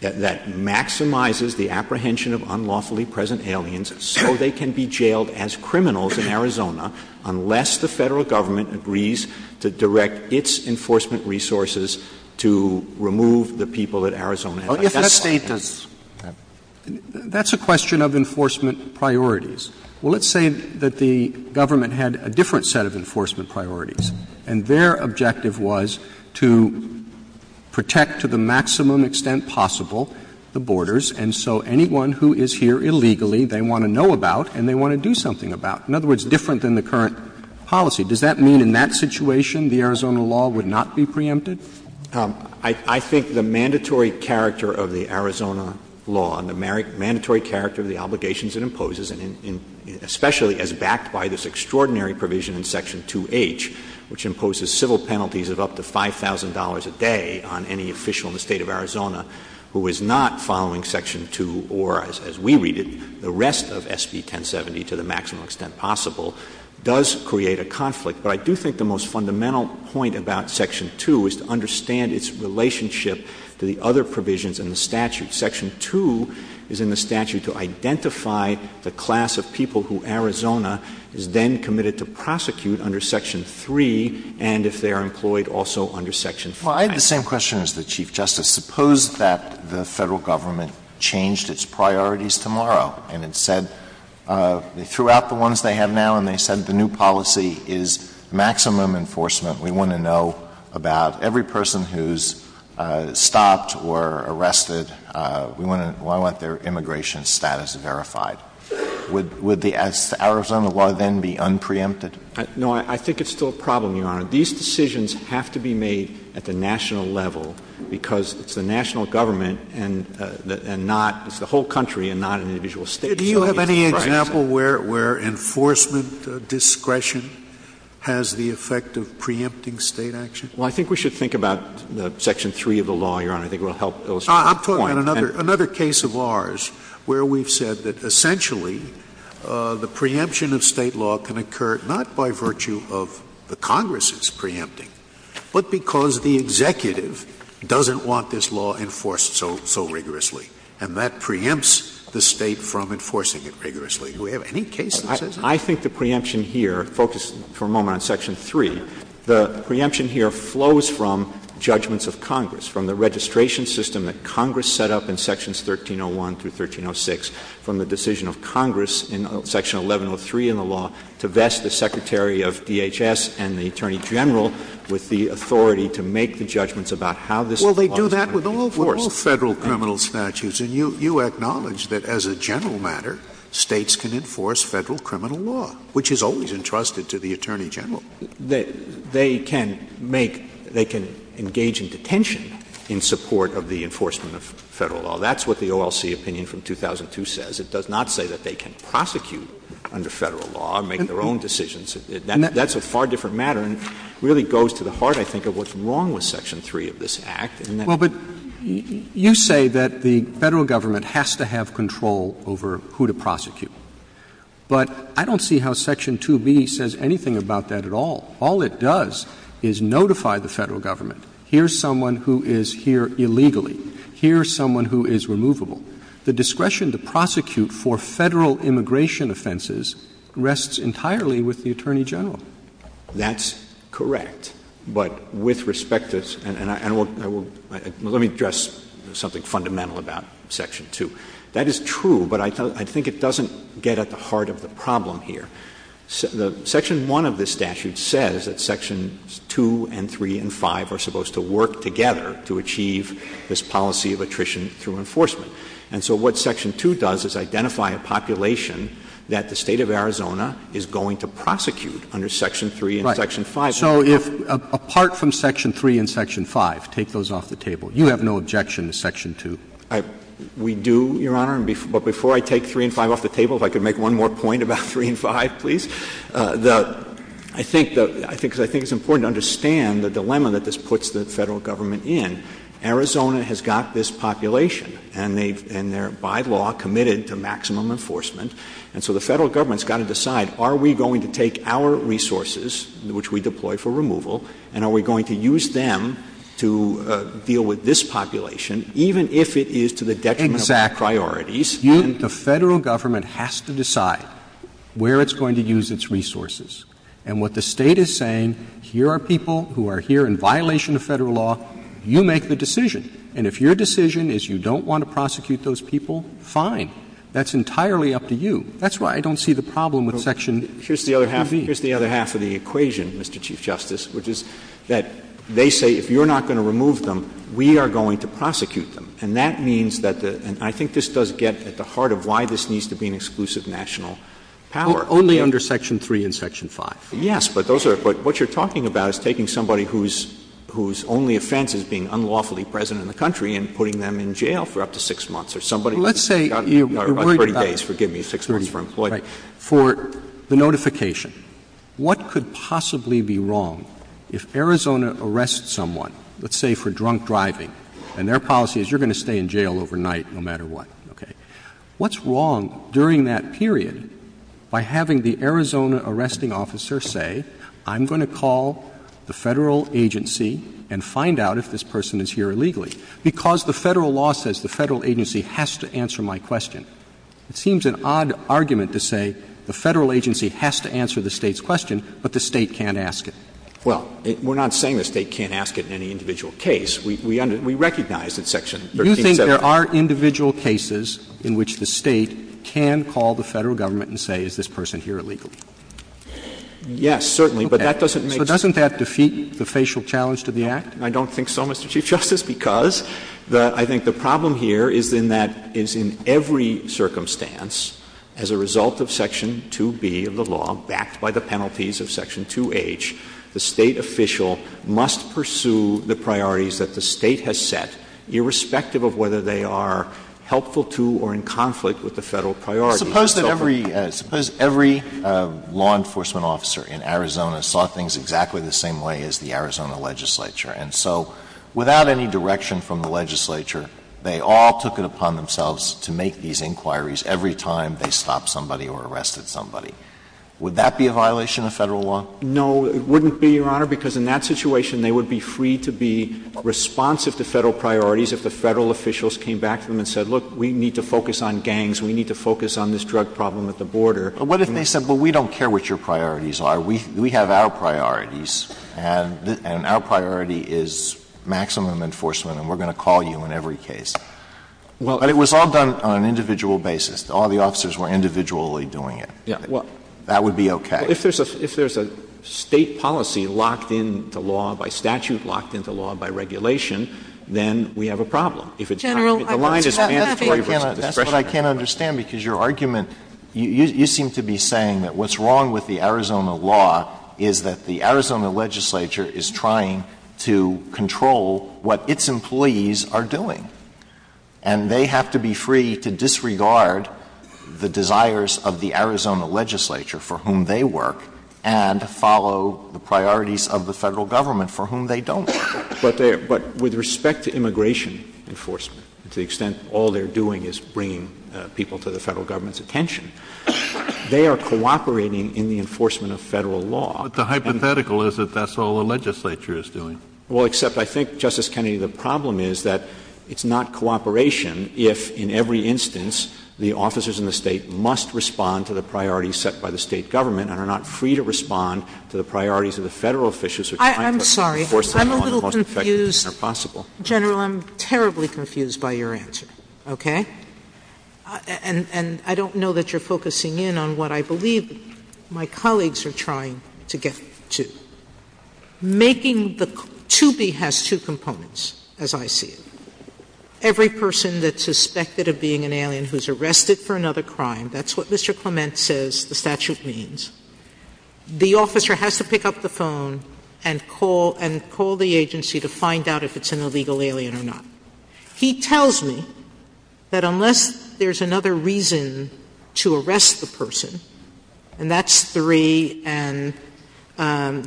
that maximizes the apprehension of unlawfully present aliens so they can be jailed as criminals in Arizona unless the federal government agrees to direct its enforcement resources to remove the people that Arizona has. That's a question of enforcement priorities. Well, let's say that the government had a different set of enforcement priorities and their objective was to protect to the maximum extent possible the borders and so anyone who is here illegally, they want to know about and they want to do something about. In other words, different than the current policy. Does that mean in that situation, the Arizona law would not be preempted? I think the mandatory character of the Arizona law and the mandatory character of the obligations it imposes, especially as backed by this extraordinary provision in Section 2H, which imposes civil penalties of up to $5,000 a day on any official in the state of Arizona who is not following Section 2 or, as we read it, the rest of SB 1070 to the maximum extent possible, does create a conflict. But I do think the most fundamental point about Section 2 is to understand its relationship to the other provisions in the statute. Section 2 is in the statute to identify the class of people who Arizona is then committed to prosecute under Section 3 and if they are employed also under Section 5. I have the same question as the Chief Justice. Suppose that the federal government changed its priorities tomorrow and it said, throughout the ones they have now, and they said the new policy is maximum enforcement. We want to know about every person who's stopped or arrested. We want to let their immigration status verified. Would the Arizona law then be unpreempted? No, I think it's still a problem, Your Honor. These decisions have to be made at the national level because it's the national government and not, it's the whole country and not an individual state. Do you have any example where enforcement discretion has the effect of preempting state action? Well, I think we should think about Section 3 of the law, Your Honor. I think it will help those. I'm putting another case of ours where we've said that essentially the preemption of state law can occur not by virtue of the Congress's preempting, but because the executive doesn't want this law enforced so rigorously. And that preempts the state from enforcing it rigorously. Do we have any cases that says that? I think the preemption here, focus for a moment on Section 3, the preemption here flows from judgments of Congress, from the registration system that Congress set up in Sections 1301 through 1306, from the decision of Congress in Section 1103 in the law to vest the Secretary of DHS and the Attorney General Well, they do that with all federal criminal statutes. And you acknowledge that as a general matter, states can enforce federal criminal law, which is always entrusted to the Attorney General. They can engage in detention in support of the enforcement of federal law. That's what the OLC opinion from 2002 says. It does not say that they can prosecute under federal law, make their own decisions. That's a far different matter and really goes to the heart, I think, of what's wrong with Section 3 of this Act. Well, but you say that the federal government has to have control over who to prosecute. But I don't see how Section 2B says anything about that at all. All it does is notify the federal government, here's someone who is here illegally. Here's someone who is removable. The discretion to prosecute for federal immigration offenses rests entirely with the Attorney General. That's correct. But with respect to this, and let me address something fundamental about Section 2. That is true, but I think it doesn't get at the heart of the problem here. Section 1 of this statute says that Sections 2 and 3 and 5 are supposed to work together to achieve this policy of attrition through enforcement. And so what Section 2 does is identify a population that the state of Arizona is going to prosecute under Section 3 and Section 5. So if, apart from Section 3 and Section 5, take those off the table. You have no objection to Section 2. We do, Your Honor. But before I take 3 and 5 off the table, if I could make one more point about 3 and 5, please. I think it's important to understand the dilemma that this puts the federal government in. Arizona has got this population, and they're, by law, committed to maximum enforcement. And so the federal government's got to decide, are we going to take our resources, which we deploy for removal, and are we going to use them to deal with this population, even if it is to the detriment of their priorities? The federal government has to decide where it's going to use its resources. And what the state is saying, here are people who are here in violation of federal law. You make the decision. And if your decision is you don't want to prosecute those people, fine. That's entirely up to you. That's why I don't see the problem with Section 2B. Here's the other half of the equation, Mr. Chief Justice, which is that they say, if you're not going to remove them, we are going to prosecute them. And that means that the, and I think this does get at the heart of why this needs to be an exclusive national power. Only under Section 3 and Section 5. Yes, but what you're talking about is taking somebody whose only offense is being unlawfully present in the country and putting them in jail for up to six months. Let's say, for the notification, what could possibly be wrong if Arizona arrests someone, let's say for drunk driving, and their policy is you're going to stay in jail overnight no matter what? What's wrong during that period by having the Arizona arresting officer say, I'm going to call the federal agency and find out if this person is here illegally? Because the federal law says the federal agency has to answer my question. It seems an odd argument to say the federal agency has to answer the state's question, but the state can't ask it. Well, we're not saying the state can't ask it in any individual case. We recognize that Section 13 says that. You think there are individual cases in which the state can call the federal government and say, is this person here illegally? Yes, certainly, but that doesn't make sense. So doesn't that defeat the facial challenge to the act? I don't think so, Mr. Chief Justice, because I think the problem here is in that is in every circumstance, as a result of Section 2B of the law, backed by the penalties of Section 2H, the state official must pursue the priorities that the state has set, irrespective of whether they are helpful to or in conflict with the federal priorities. Suppose that every law enforcement officer in Arizona saw things exactly the same way as the Arizona legislature, and so without any direction from the legislature, they all took it upon themselves to make these inquiries every time they stopped somebody or arrested somebody. Would that be a violation of federal law? No, it wouldn't be, Your Honor, because in that situation, they would be free to be responsive to federal priorities if the federal officials came back to them and said, look, we need to focus on gangs. We need to focus on this drug problem at the border. But what if they said, well, we don't care what your priorities are. We have our priorities, and our priority is maximum enforcement, and we're going to call you in every case. Well, it was all done on an individual basis. All the officers were individually doing it. That would be OK. If there's a state policy locked in the law by statute, locked into law by regulation, then we have a problem. If the line is mandatory, that's what I can't understand, because your argument, you seem to be saying that what's wrong with the Arizona law is that the Arizona legislature is trying to control what its employees are doing. And they have to be free to disregard the desires of the Arizona legislature, for whom they work, and follow the priorities of the federal government, for whom they don't. But with respect to immigration enforcement, to the extent all they're doing is bringing people to the federal government's attention, they are cooperating in the enforcement of federal law. But the hypothetical is that that's all the legislature is doing. Well, except I think, Justice Kennedy, the problem is that it's not cooperation if, in every instance, the officers in the state must respond to the priorities set by the state government, and are not free to respond to the priorities of the federal officials who are trying to enforce the law in the most effective manner possible. General, I'm terribly confused by your answer, OK? And I don't know that you're focusing in on what I believe my colleagues are trying to get to. Making the... To be has two components, as I see it. Every person that's suspected of being an alien who's arrested for another crime, that's what Mr. Clement says the statute means, the officer has to pick up the phone and call the agency to find out if it's an illegal alien or not. He tells me that unless there's another reason to arrest the person, and that's three and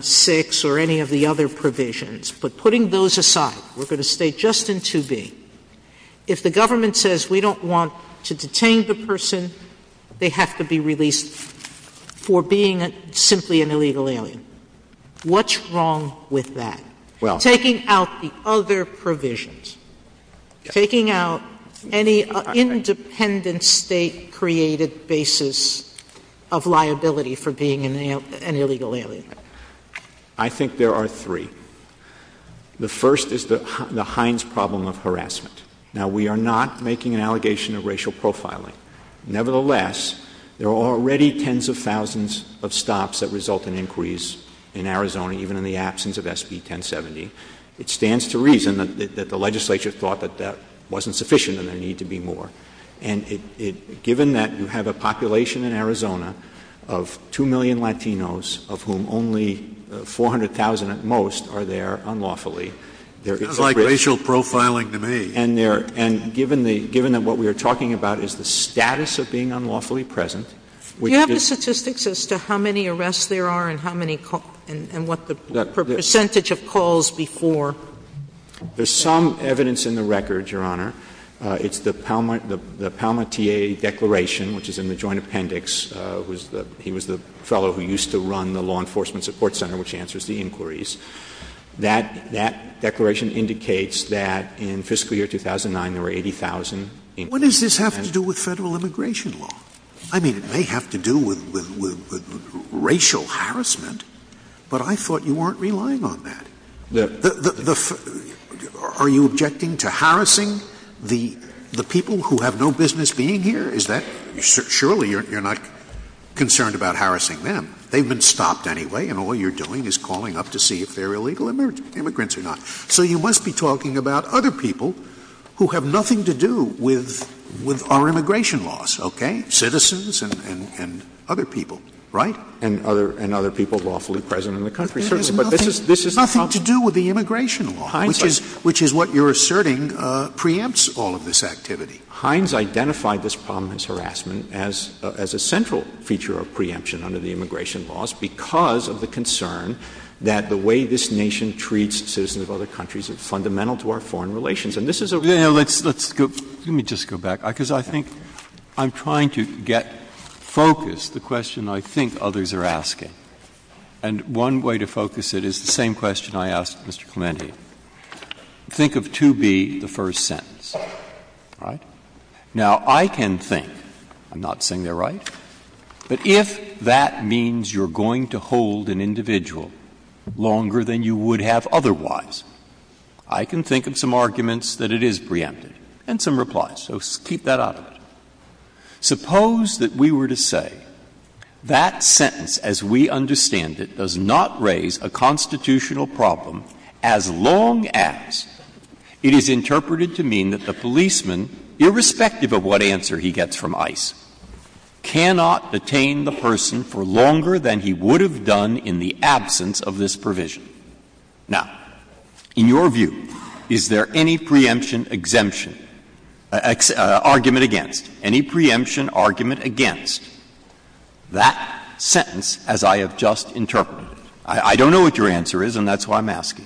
six or any of the other provisions, but putting those aside, we're going to stay just in 2B, if the government says we don't want to detain the person, they have to be released for being simply an illegal alien. What's wrong with that? Taking out the other provisions. Taking out any independent state-created basis of liability for being an illegal alien. I think there are three. The first is the Heinz problem of harassment. Now, we are not making an allegation of racial profiling. Nevertheless, there are already tens of thousands of stops that result in inquiries in Arizona, even in the absence of SB 1070. It stands to reason that the legislature thought that that wasn't sufficient and there needed to be more. And given that you have a population in Arizona of 2 million Latinos, of whom only 400,000 at most are there unlawfully. It's like racial profiling to me. And given that what we are talking about is the status of being unlawfully present. Do you have the statistics as to how many arrests there are and what the percentage of calls before? There's some evidence in the record, Your Honor. It's the Palmatier Declaration, which is in the Joint Appendix. He was the fellow who used to run the Law Enforcement Support Center, which answers the inquiries. That declaration indicates that in fiscal year 2009, there were 80,000 inquiries. What does this have to do with federal immigration law? I mean, it may have to do with racial harassment, but I thought you weren't relying on that. Are you objecting to harassing the people who have no business being here? Is that... Surely you're not concerned about harassing them. They've been stopped anyway, and all you're doing is calling up to see if they're illegal immigrants or not. So you must be talking about other people who have nothing to do with our immigration laws, OK? Citizens and other people, right? And other people lawfully present in the country, certainly. But this has nothing to do with the immigration law, which is what you're asserting preempts all of this activity. Hines identified this prominence harassment as a central feature of preemption under the immigration laws because of the concern that the way this nation treats citizens of other countries is fundamental to our foreign relations. And this is a... Let me just go back, because I think... ..if we get focused, the question I think others are asking, and one way to focus it is the same question I asked Mr Clementi. Think of to be the first sentence, right? Now, I can think... I'm not saying they're right. But if that means you're going to hold an individual longer than you would have otherwise, I can think of some arguments that it is preemptive, and some replies, so keep that out of it. Suppose that we were to say, that sentence, as we understand it, does not raise a constitutional problem as long as it is interpreted to mean that the policeman, irrespective of what answer he gets from ICE, cannot detain the person for longer than he would have done in the absence of this provision. Now, in your view, is there any preemption exemption... ..argument against? Any preemption argument against that sentence as I have just interpreted? I don't know what your answer is, and that's why I'm asking.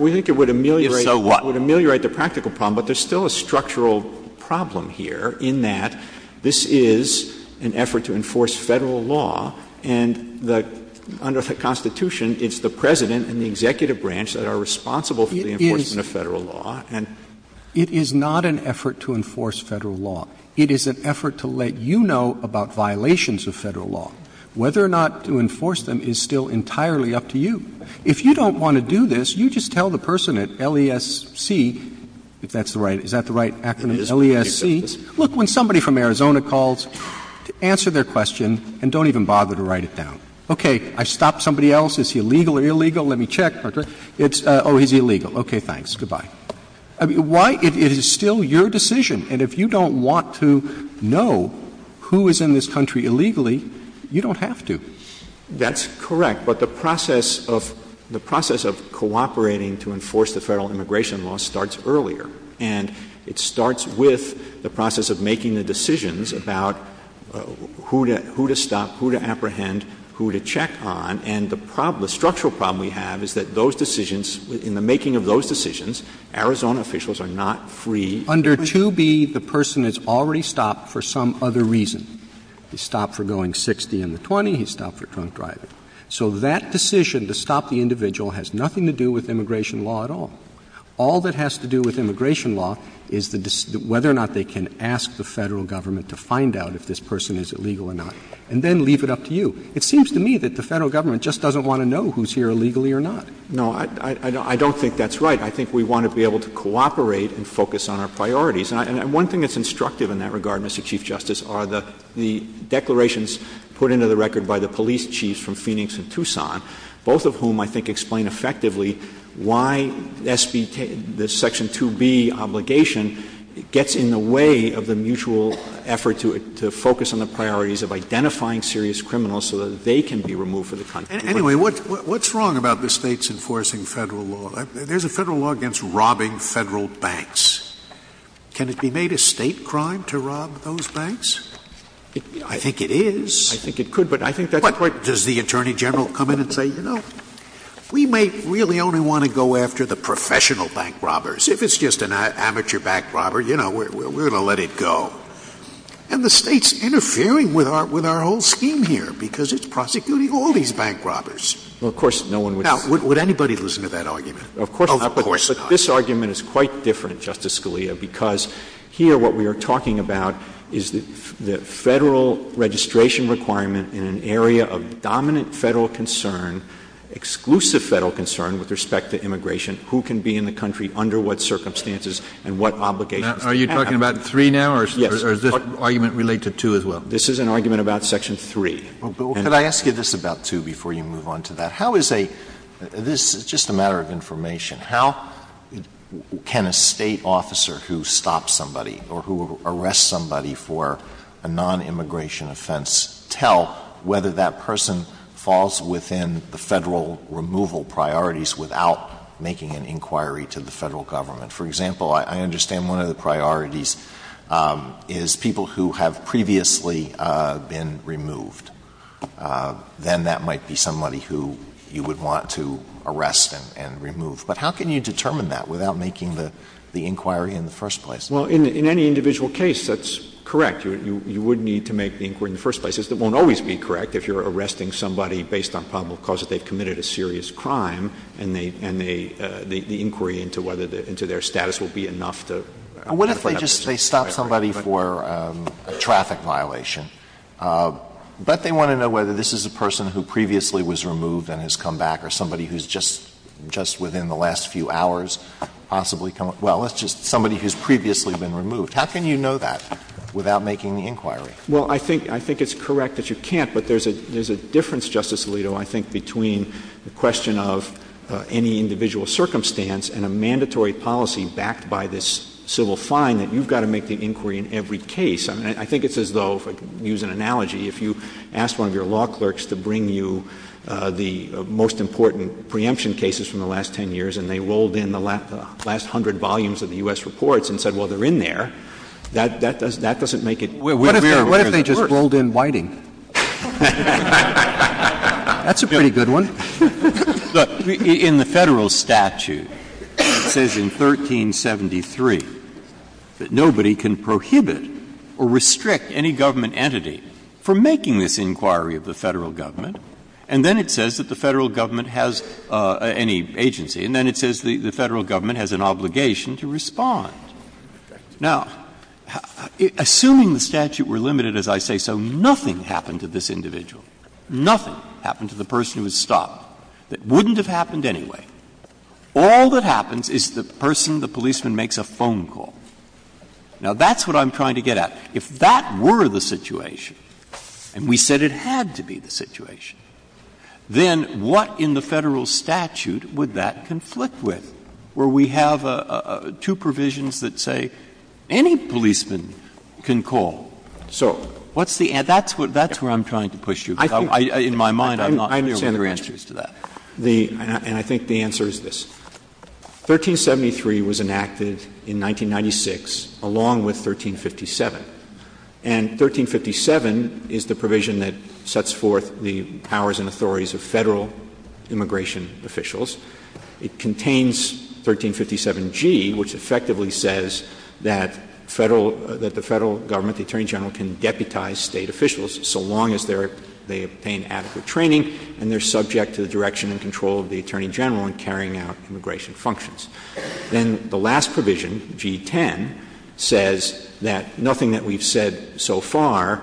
We think it would ameliorate the practical problem, but there's still a structural problem here, in that this is an effort to enforce federal law, and under the Constitution, it's the president and the executive branch that are responsible for the enforcement of federal law. It is not an effort to enforce federal law. It is an effort to let you know about violations of federal law. Whether or not to enforce them is still entirely up to you. If you don't want to do this, you just tell the person at LESC, if that's the right... Is that the right acronym, LESC? Look, when somebody from Arizona calls, answer their question and don't even bother to write it down. OK, I stopped somebody else. Is he legal or illegal? Let me check. Oh, he's illegal. OK, thanks. Goodbye. Why? It is still your decision, and if you don't want to know who is in this country illegally, you don't have to. That's correct, but the process of cooperating to enforce the federal immigration law starts earlier, and it starts with the process of making the decisions about who to stop, who to apprehend, who to check on, and the structural problem we have is that those decisions, in the making of those decisions, Arizona officials are not free... Under 2B, the person has already stopped for some other reason. He stopped for going 60 in the 20, he stopped for drunk driving. So that decision to stop the individual has nothing to do with immigration law at all. All that has to do with immigration law is whether or not they can ask the federal government to find out if this person is illegal or not, and then leave it up to you. It seems to me that the federal government just doesn't want to know who's here illegally or not. No, I don't think that's right. I think we want to be able to cooperate and focus on our priorities. And one thing that's instructive in that regard, Mr Chief Justice, are the declarations put into the record by the police chiefs from Phoenix and Tucson, both of whom, I think, explain effectively why this Section 2B obligation gets in the way of the mutual effort to focus on the priorities of identifying serious criminals so that they can be removed from the country. Anyway, what's wrong about the states enforcing federal law? There's a federal law against robbing federal banks. Can it be made a state crime to rob those banks? I think it is. I think it could, but I think that... Does the Attorney General come in and say, you know, we may really only want to go after the professional bank robbers. If it's just an amateur bank robber, you know, we're going to let it go. And the state's interfering with our whole scheme here because it's prosecuting all these bank robbers. Well, of course, no one would... Now, would anybody listen to that argument? Of course not. This argument is quite different, Justice Scalia, because here what we are talking about is the federal registration requirement in an area of dominant federal concern, exclusive federal concern with respect to immigration, who can be in the country under what circumstances and what obligations. Are you talking about three now, or is this argument related to two as well? This is an argument about section three. Could I ask you this about two before you move on to that? How is a... This is just a matter of information. How can a state officer who stops somebody or who arrests somebody for a non-immigration offense tell whether that person falls within the federal removal priorities without making an inquiry to the federal government? For example, I understand one of the priorities is people who have previously been removed. Then that might be somebody who you would want to arrest and remove. But how can you determine that without making the inquiry in the first place? Well, in any individual case, that's correct. You would need to make the inquiry in the first place. It won't always be correct if you're arresting somebody based on probable cause that they've committed a serious crime and the inquiry into whether their status will be enough to... What if they stop somebody for a traffic violation, but they want to know whether this is a person who previously was removed and has come back or somebody who's just within the last few hours possibly come... Well, it's just somebody who's previously been removed. How can you know that without making the inquiry? Well, I think it's correct that you can't, but there's a difference, Justice Alito, I think, between the question of any individual circumstance and a mandatory policy backed by this civil fine that you've got to make the inquiry in every case. I mean, I think it's as though, if I could use an analogy, if you ask one of your law clerks to bring you the most important preemption cases from the last 10 years, and they rolled in the last 100 volumes of the U.S. reports and said, well, they're in there, that doesn't make it... What if they just rolled in Whiting? That's a pretty good one. In the federal statute, it says in 1373 that nobody can prohibit or restrict any government entity from making this inquiry of the federal government. And then it says that the federal government has any agency, and then it says the federal government has an obligation to respond. Now, assuming the statute were limited, as I say, so nothing happened to this individual. Nothing happened to the person who was stopped. It wouldn't have happened anyway. All that happens is the person, the policeman, makes a phone call. Now, that's what I'm trying to get at. If that were the situation, and we said it had to be the situation, then what in the federal statute would that conflict with? Where we have two provisions that say, any policeman can call. So, that's where I'm trying to push you. In my mind, I'm not sending your answers to that. And I think the answer is this. 1373 was enacted in 1996, along with 1357. And 1357 is the provision that sets forth the powers and authorities of federal immigration officials. It contains 1357G, which effectively says that the federal government, the Attorney General, can deputize state officials so long as they obtain adequate training and they're subject to the direction and control of the Attorney General in carrying out immigration functions. Then the last provision, G10, says that nothing that we've said so far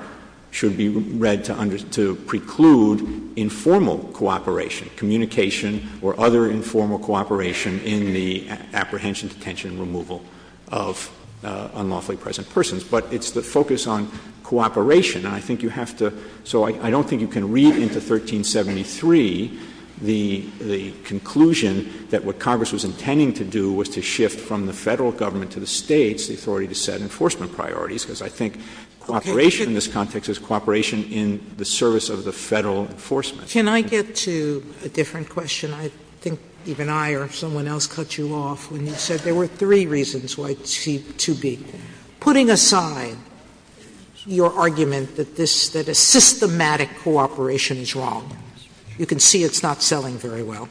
should be read to preclude informal cooperation, communication or other informal cooperation in the apprehension, detention, removal of unlawfully present persons. But it's the focus on cooperation. And I think you have to, so I don't think you can read into 1373 the conclusion that what Congress was intending to do was to shift from the federal government to the states, the authority to set enforcement priorities. Because I think cooperation in this context is cooperation in the service of the federal enforcement. Can I get to a different question? I think even I or someone else cut you off when you said there were three reasons why 2B. Putting aside your argument that a systematic cooperation is wrong, you can see it's not selling very well.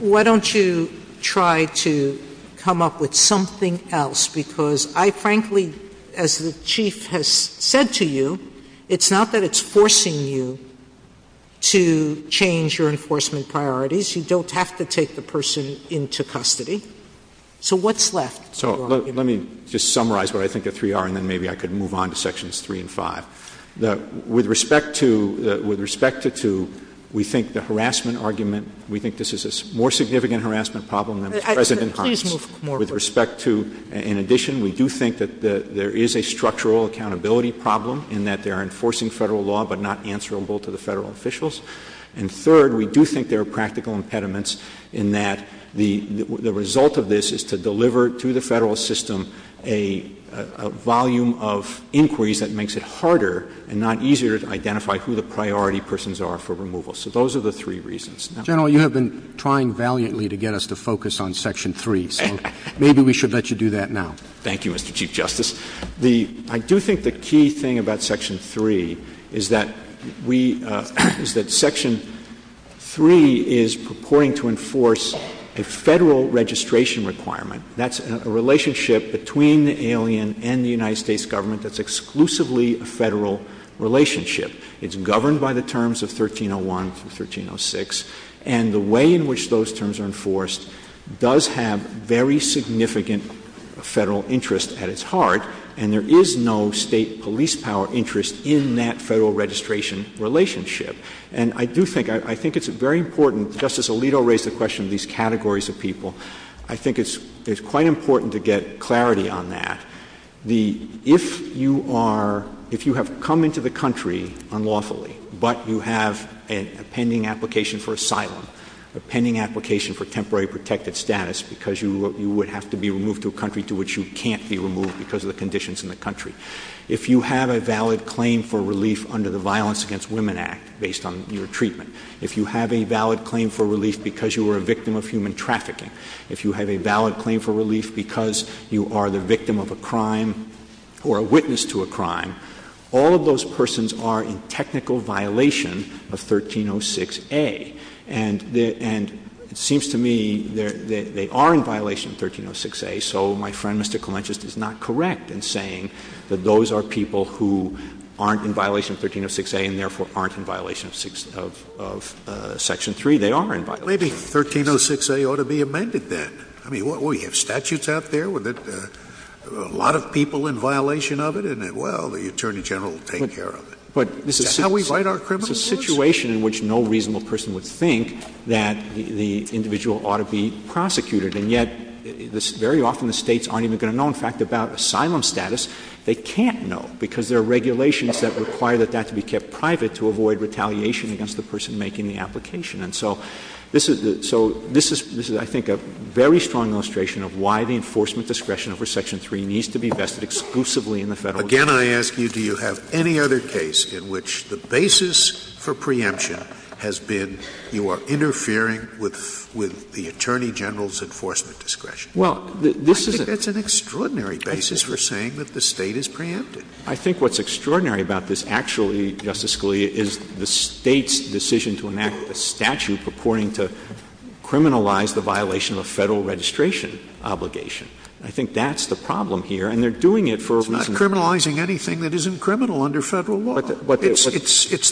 Why don't you try to come up with something else? Because I frankly, as the Chief has said to you, it's not that it's forcing you to change your enforcement priorities. You don't have to take the person into custody. So what's left? So let me just summarize what I think the three are and then maybe I could move on to sections three and five. With respect to two, we think the harassment argument, we think this is a more significant harassment problem than the present impoundment. Please move more forward. With respect to, in addition, we do think that there is a structural accountability problem in that they're enforcing federal law but not answerable to the federal officials. And third, we do think there are practical impediments in that the result of this is to deliver to the federal system a volume of inquiries that makes it harder and not easier to identify who the priority persons are for removal. So those are the three reasons. General, you have been trying valiantly to get us to focus on section three. So maybe we should let you do that now. Thank you, Mr. Chief Justice. I do think the key thing about section three is that section three is purporting to enforce a federal registration requirement. That's a relationship between the alien and the United States government that's exclusively a federal relationship. It's governed by the terms of 1301 and 1306. And the way in which those terms are enforced does have very significant federal interest at its heart. And there is no state police power interest in that federal registration relationship. And I do think, I think it's very important, Justice Alito raised the question of these categories of people. I think it's quite important to get clarity on that. If you are, if you have come into the country unlawfully, but you have a pending application for asylum, a pending application for temporary protected status because you would have to be removed to a country to which you can't be removed because of the conditions in the country. If you have a valid claim for relief under the Violence Against Women Act, based on your treatment, if you have a valid claim for relief because you were a victim of human trafficking, if you have a valid claim for relief because you are the victim of a crime or a witness to a crime, all of those persons are in technical violation of 1306A. And it seems to me that they are in violation of 1306A. So my friend, Mr. Clement, just is not correct in saying that those are people who aren't in violation of 1306A and therefore aren't in violation of Section 3. They are in violation. Maybe 1306A ought to be amended then. I mean, we have statutes out there with a lot of people in violation of it. And then, well, the Attorney General will take care of it. But this is- How we fight our criminals? It's a situation in which no reasonable person would think that the individual ought to be prosecuted. And yet, very often the states aren't even gonna know, in fact, about asylum status. They can't know because there are regulations that require that that to be kept private to avoid retaliation against the person making the application. And so this is, I think, a very strong illustration of why the enforcement discretion for Section 3 needs to be vested exclusively in the federal- Again, I ask you, do you have any other case in which the basis for preemption has been you are interfering with the Attorney General's enforcement discretion? Well, this is- This is an extraordinary basis for saying that the state is preempted. I think what's extraordinary about this actually, Justice Scalia, is the state's decision to enact a statute purporting to criminalize the violation of a federal registration obligation. I think that's the problem here. And they're doing it for a reason- It's not criminalizing anything that isn't criminal under federal law. It's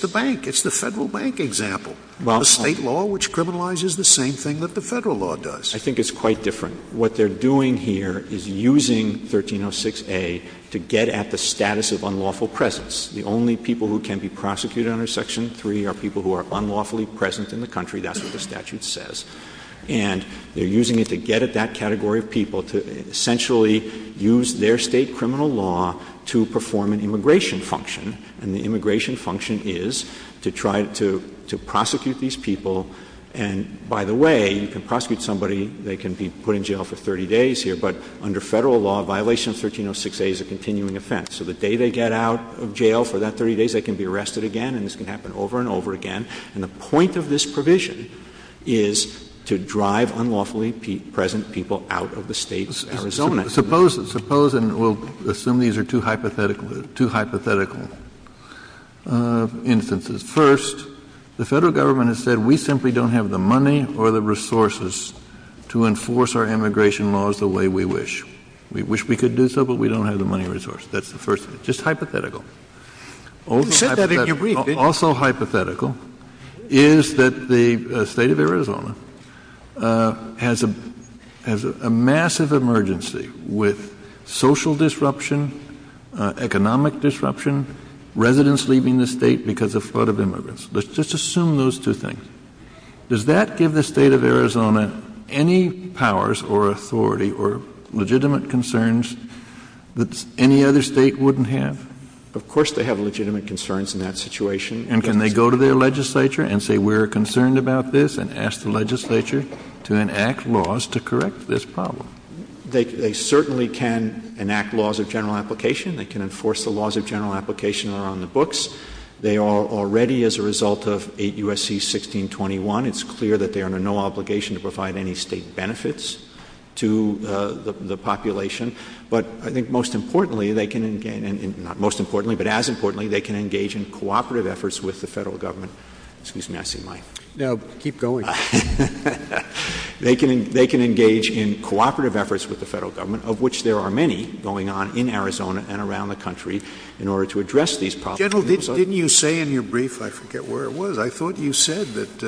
the bank. It's the federal bank example. Well- The state law, which criminalizes the same thing that the federal law does. I think it's quite different. What they're doing here is using 1306A to get at the status of unlawful presence. The only people who can be prosecuted under Section 3 are people who are unlawfully present in the country. That's what the statute says. And they're using it to get at that category of people to essentially use their state criminal law to perform an immigration function. And the immigration function is to try to prosecute these people. And by the way, you can prosecute somebody, they can be put in jail for 30 days here. But under federal law, violation of 1306A is a continuing offense. So the day they get out of jail for that 30 days, they can be arrested again, and this can happen over and over again. And the point of this provision is to drive unlawfully present people out of the state's Arizona. Suppose, and we'll assume these are two hypothetical instances. First, the federal government has said, we simply don't have the money or the resources to enforce our immigration laws the way we wish. We wish we could do so, but we don't have the money or resource. That's the first, just hypothetical. Also hypothetical is that the state of Arizona has a massive emergency with social disruption, economic disruption, residents leaving the state because of flood of immigrants. Let's just assume those two things. Does that give the state of Arizona any powers or authority or legitimate concerns that any other state wouldn't have? Of course they have legitimate concerns in that situation. And can they go to their legislature and say, we're concerned about this, and ask the legislature to enact laws to correct this problem? They certainly can enact laws of general application. They can enforce the laws of general application around the books. They are already, as a result of 8 U.S.C. 1621, it's clear that they are under no obligation to provide any state benefits to the population. But I think most importantly, they can, not most importantly, but as importantly, they can engage in cooperative efforts with the federal government. Excuse me, I see Mike. No, keep going. They can engage in cooperative efforts with the federal government, of which there are many going on in Arizona and around the country in order to address these problems. Didn't you say in your brief, I forget where it was, I thought you said that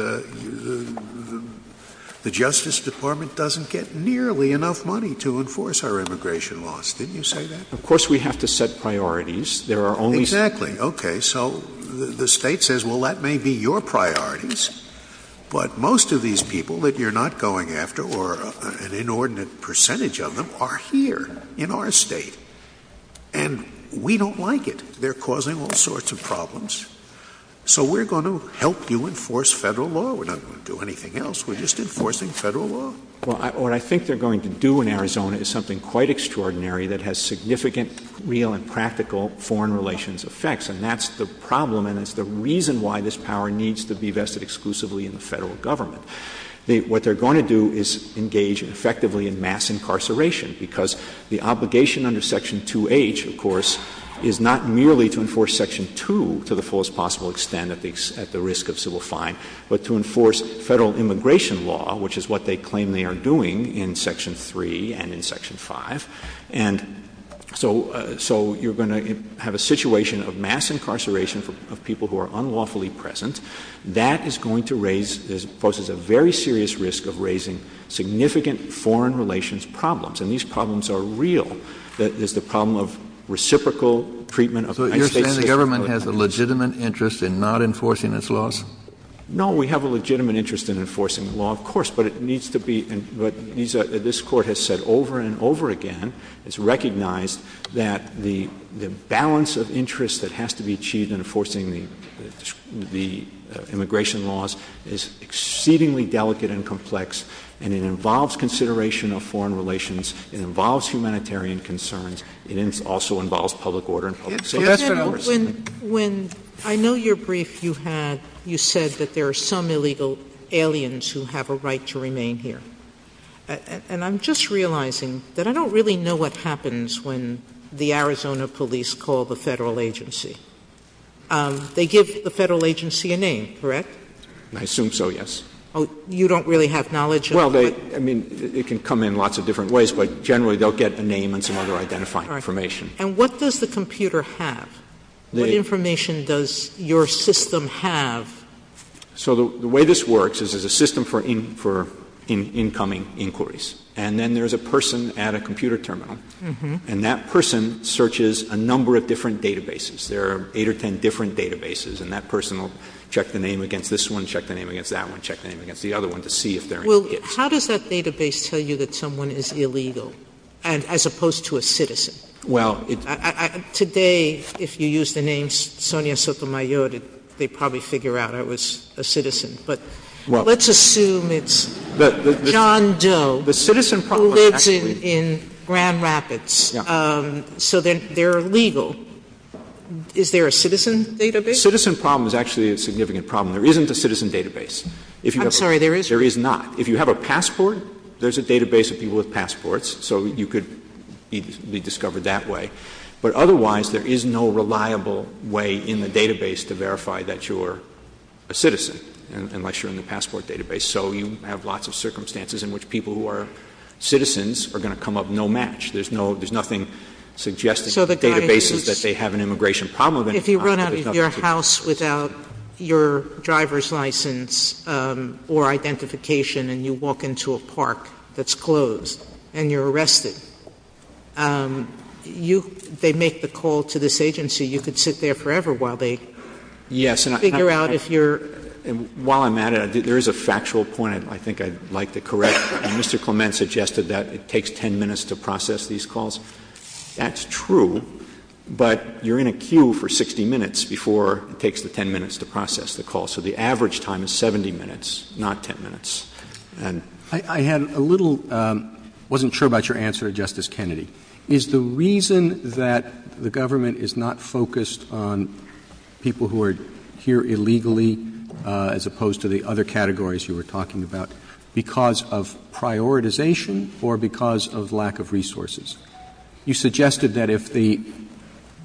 the Justice Department doesn't get nearly enough money to enforce our immigration laws. Didn't you say that? Of course we have to set priorities. There are only- Exactly, okay. So the state says, well, that may be your priorities, but most of these people that you're not going after, or an inordinate percentage of them, are here in our state. And we don't like it. They're causing all sorts of problems. So we're gonna help you enforce federal law. We're not gonna do anything else. We're just enforcing federal law. Well, what I think they're going to do in Arizona is something quite extraordinary that has significant real and practical foreign relations effects. And that's the problem, and it's the reason why this power needs to be vested exclusively in the federal government. What they're gonna do is engage effectively in mass incarceration, because the obligation under Section 2H, of course, is not merely to enforce Section 2 to the fullest possible extent at the risk of civil fine, but to enforce federal immigration law, which is what they claim they are doing in Section 3 and in Section 5. And so you're gonna have a situation of mass incarceration of people who are unlawfully present. That is going to raise, poses a very serious risk of raising significant foreign relations problems. And these problems are real. There's the problem of reciprocal treatment of- So you're saying the government has a legitimate interest in not enforcing its laws? No, we have a legitimate interest in enforcing the law, of course, but it needs to be, but this court has said over and over again, it's recognized that the balance of interest that has to be achieved in enforcing the immigration laws is exceedingly delicate and complex, and it involves consideration of foreign relations, it involves humanitarian concerns, and it also involves public order and public safety. When, I know your brief you had, you said that there are some illegal aliens who have a right to remain here. And I'm just realizing that I don't really know what happens when the Arizona police call the federal agency. They give the federal agency a name, correct? I assume so, yes. Oh, you don't really have knowledge? Well, I mean, it can come in lots of different ways, but generally they'll get a name and some other identifying information. And what does the computer have? What information does your system have? So the way this works is there's a system for incoming inquiries, and then there's a person at a computer terminal, and that person searches a number of different databases. There are eight or 10 different databases, and that person will check the name against this one, check the name against that one, check the name against the other one to see if they're aliens. Well, how does that database tell you that someone is illegal, as opposed to a citizen? Today, if you use the names Sonia Sotomayor, they'd probably figure out I was a citizen. But let's assume it's John Doe, who lives in Grand Rapids. So then they're illegal. Is there a citizen database? Citizen problem is actually a significant problem. There isn't a citizen database. I'm sorry, there is? There is not. If you have a passport, there's a database of people with passports, so you could be discovered that way. But otherwise, there is no reliable way in the database to verify that you're a citizen, unless you're in the passport database. So you have lots of circumstances in which people who are citizens are gonna come up no match. There's nothing suggested in the databases that they have an immigration problem. If you run out of your house without your driver's license or identification, and you walk into a park that's closed, and you're arrested, they make the call to this agency. You could sit there forever while they figure out if you're. While I'm at it, there is a factual point I think I'd like to correct. Mr. Clement suggested that it takes 10 minutes to process these calls. That's true, but you're in a queue for 60 minutes before it takes the 10 minutes to process the call. So the average time is 70 minutes, not 10 minutes. I have a little, wasn't sure about your answer, Justice Kennedy. Is the reason that the government is not focused on people who are here illegally, as opposed to the other categories you were talking about, because of prioritization or because of lack of resources? You suggested that if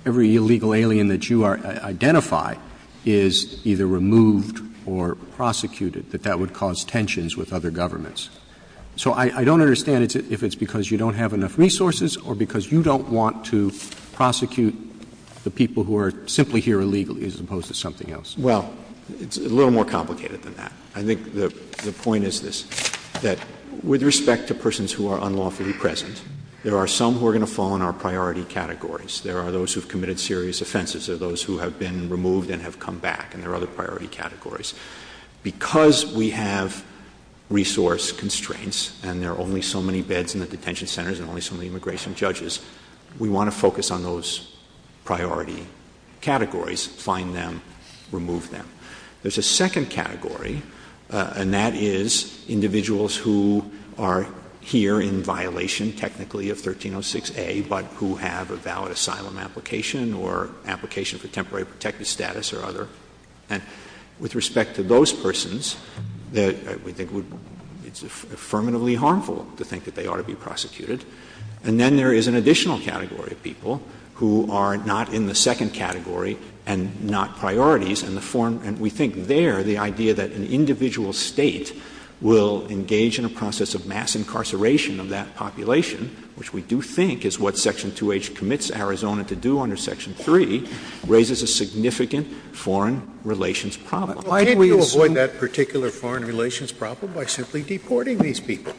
every illegal alien that you are, identify is either removed or prosecuted, that that would cause tensions with other governments. So I don't understand if it's because you don't have enough resources or because you don't want to prosecute the people who are simply here illegally as opposed to something else. Well, it's a little more complicated than that. I think the point is this, that with respect to persons who are unlawfully present, there are some who are gonna fall in our priority categories. There are those who've committed serious offenses. There are those who have been removed and have come back and there are other priority categories. Because we have resource constraints and there are only so many beds in the detention centers and only so many immigration judges, we want to focus on those priority categories, find them, remove them. There's a second category, and that is individuals who are here in violation, technically a 1306A, but who have a valid asylum application or application for temporary protective status or other. And with respect to those persons, we think it's affirmatively harmful to think that they ought to be prosecuted. And then there is an additional category of people who are not in the second category and not priorities. And we think there, the idea that an individual state will engage in a process of mass incarceration of that population, which we do think is what Section 2H commits Arizona to do under Section 3, raises a significant foreign relations problem. Why can't we avoid that particular foreign relations problem by simply deporting these people?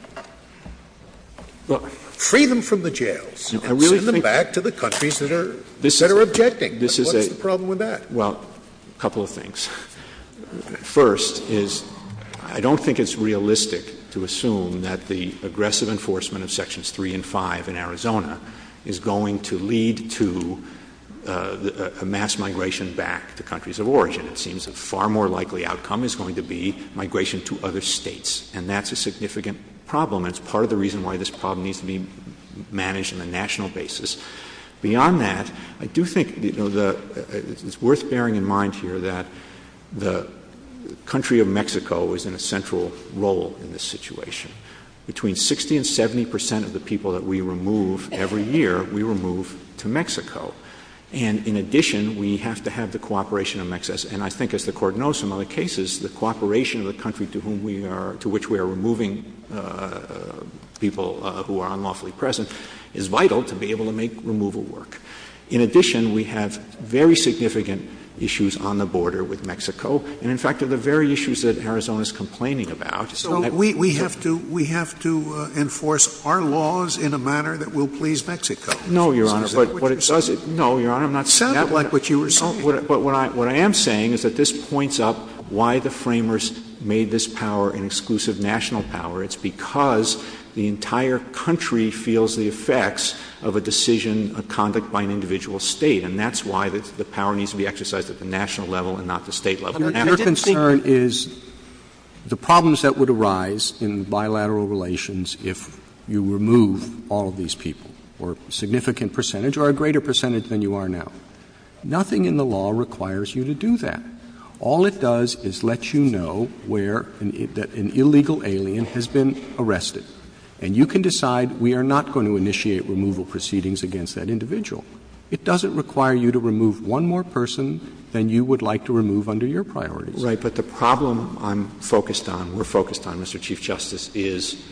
Free them from the jails and send them back to the countries that are objecting. What's the problem with that? Well, a couple of things. First is, I don't think it's realistic to assume that the aggressive enforcement of Sections 3 and 5 in Arizona is going to lead to a mass migration back to countries of origin. It seems a far more likely outcome is going to be migration to other states. And that's a significant problem. It's part of the reason why this problem needs to be managed on a national basis. Beyond that, I do think it's worth bearing in mind here that the country of Mexico is in a central role in this situation. Between 60 and 70% of the people that we remove every year, we remove to Mexico. And in addition, we have to have the cooperation of Mexico. And I think as the court knows from other cases, the cooperation of the country to which we are removing people who are unlawfully present is vital to be able to make removal work. In addition, we have very significant issues on the border with Mexico. And in fact, they're the very issues that Arizona's complaining about. So we have to enforce our laws in a manner that will please Mexico. No, Your Honor, but it doesn't. No, Your Honor, I'm not saying that. Not like what you were saying. But what I am saying is that this points up why the framers made this power an exclusive national power. It's because the entire country feels the effects of a decision of conduct by an individual state. And that's why the power needs to be exercised at the national level and not the state level. Your concern is the problems that would arise in bilateral relations if you remove all of these people or a significant percentage or a greater percentage than you are now. Nothing in the law requires you to do that. All it does is let you know where an illegal alien has been arrested. And you can decide we are not going to initiate removal proceedings against that individual. It doesn't require you to remove one more person than you would like to remove under your priorities. Right, but the problem I'm focused on, we're focused on, Mr. Chief Justice, is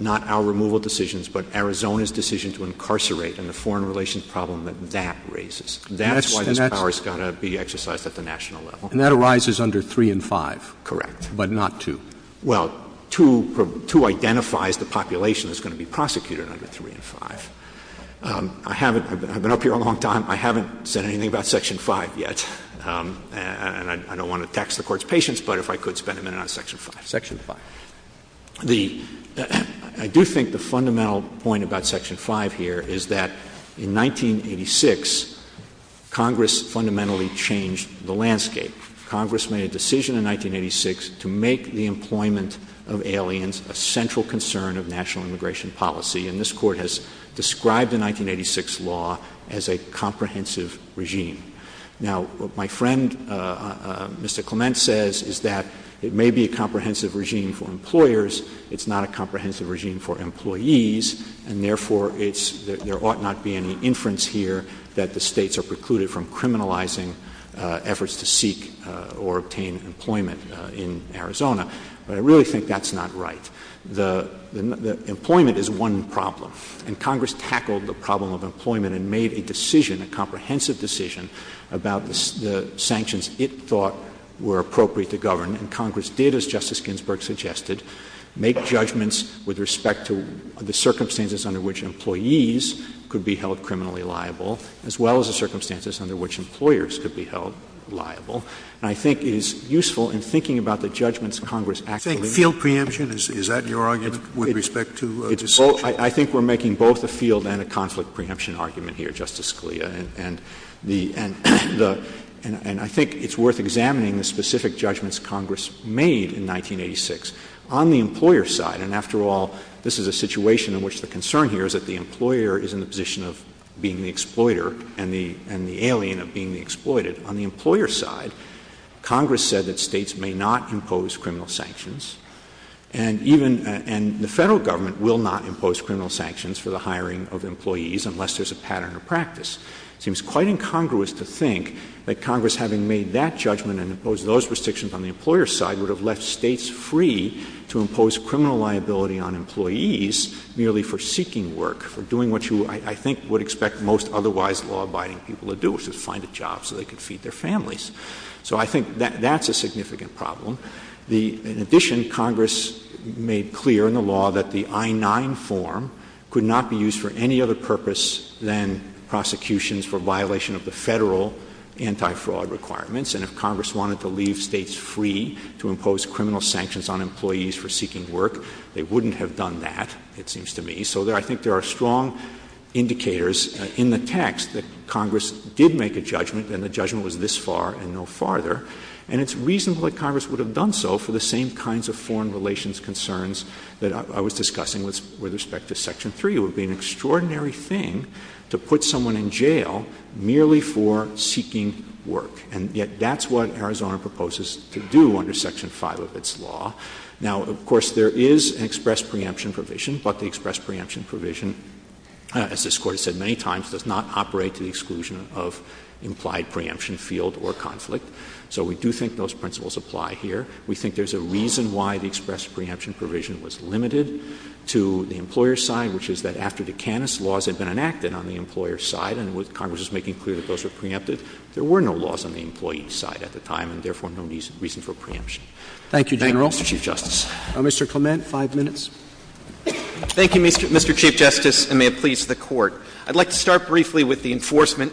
not our removal decisions, but Arizona's decision to incarcerate and the foreign relations problem that that raises. That's why this power's gotta be exercised at the national level. And that arises under three and five. Correct, but not two. Well, two identifies the population that's gonna be prosecuted under three and five. I haven't, I've been up here a long time, I haven't said anything about section five yet. And I don't want to tax the court's patience, but if I could spend a minute on section five. Section five. I do think the fundamental point about section five here is that in 1986, Congress fundamentally changed the landscape. Congress made a decision in 1986 to make the employment of aliens a central concern of national immigration policy. And this court has described the 1986 law as a comprehensive regime. Now, what my friend, Mr. Clement, says is that it may be a comprehensive regime for employers, it's not a comprehensive regime for employees, and therefore there ought not be any inference here that the states are precluded from criminalizing efforts to seek or obtain employment in Arizona. But I really think that's not right. The employment is one problem. And Congress tackled the problem of employment and made a decision, a comprehensive decision about the sanctions it thought were appropriate to govern. And Congress did, as Justice Ginsburg suggested, make judgments with respect to the circumstances under which employees could be held criminally liable as well as the circumstances under which employers could be held liable. And I think it is useful in thinking about the judgments Congress actually- Field preemption, is that your argument with respect to- I think we're making both a field and a conflict preemption argument here, Justice Scalia. And I think it's worth examining the specific judgments Congress made in 1986. On the employer side, and after all, this is a situation in which the concern here is that the employer is in the position of being the exploiter and the alien of being the exploited. On the employer side, Congress said that states may not impose criminal sanctions, and the federal government will not impose criminal sanctions for the hiring of employees unless there's a pattern of practice. It seems quite incongruous to think that Congress having made that judgment and imposed those restrictions on the employer's side would have left states free to impose criminal liability on employees merely for seeking work, for doing what you, I think, would expect most otherwise law-abiding people to do, which is find a job so they could feed their families. So I think that that's a significant problem. In addition, Congress made clear in the law that the I-9 form could not be used for any other purpose than prosecutions for violation of the federal anti-fraud requirements, and if Congress wanted to leave states free to impose criminal sanctions on employees for seeking work, they wouldn't have done that, it seems to me. So I think there are strong indicators in the text that Congress did make a judgment, and the judgment was this far and no farther, and it's reasonable that Congress would have done so for the same kinds of foreign relations concerns that I was discussing with respect to Section 3. It would be an extraordinary thing to put someone in jail merely for seeking work, and yet that's what Arizona proposes to do under Section 5 of its law. Now, of course, there is an express preemption provision, but the express preemption provision, as this Court has said many times, does not operate to the exclusion of implied preemption field or conflict. So we do think those principles apply here. We think there's a reason why the express preemption provision was limited to the employer's side, which is that after the Canis laws had been enacted on the employer's side, and Congress was making clear that those were preempted, there were no laws on the employee's side at the time, and therefore no reason for preemption. Thank you, General. Thank you, Chief Justice. Mr. Clement, five minutes. Thank you, Mr. Chief Justice, and may it please the Court. I'd like to start briefly with the enforcement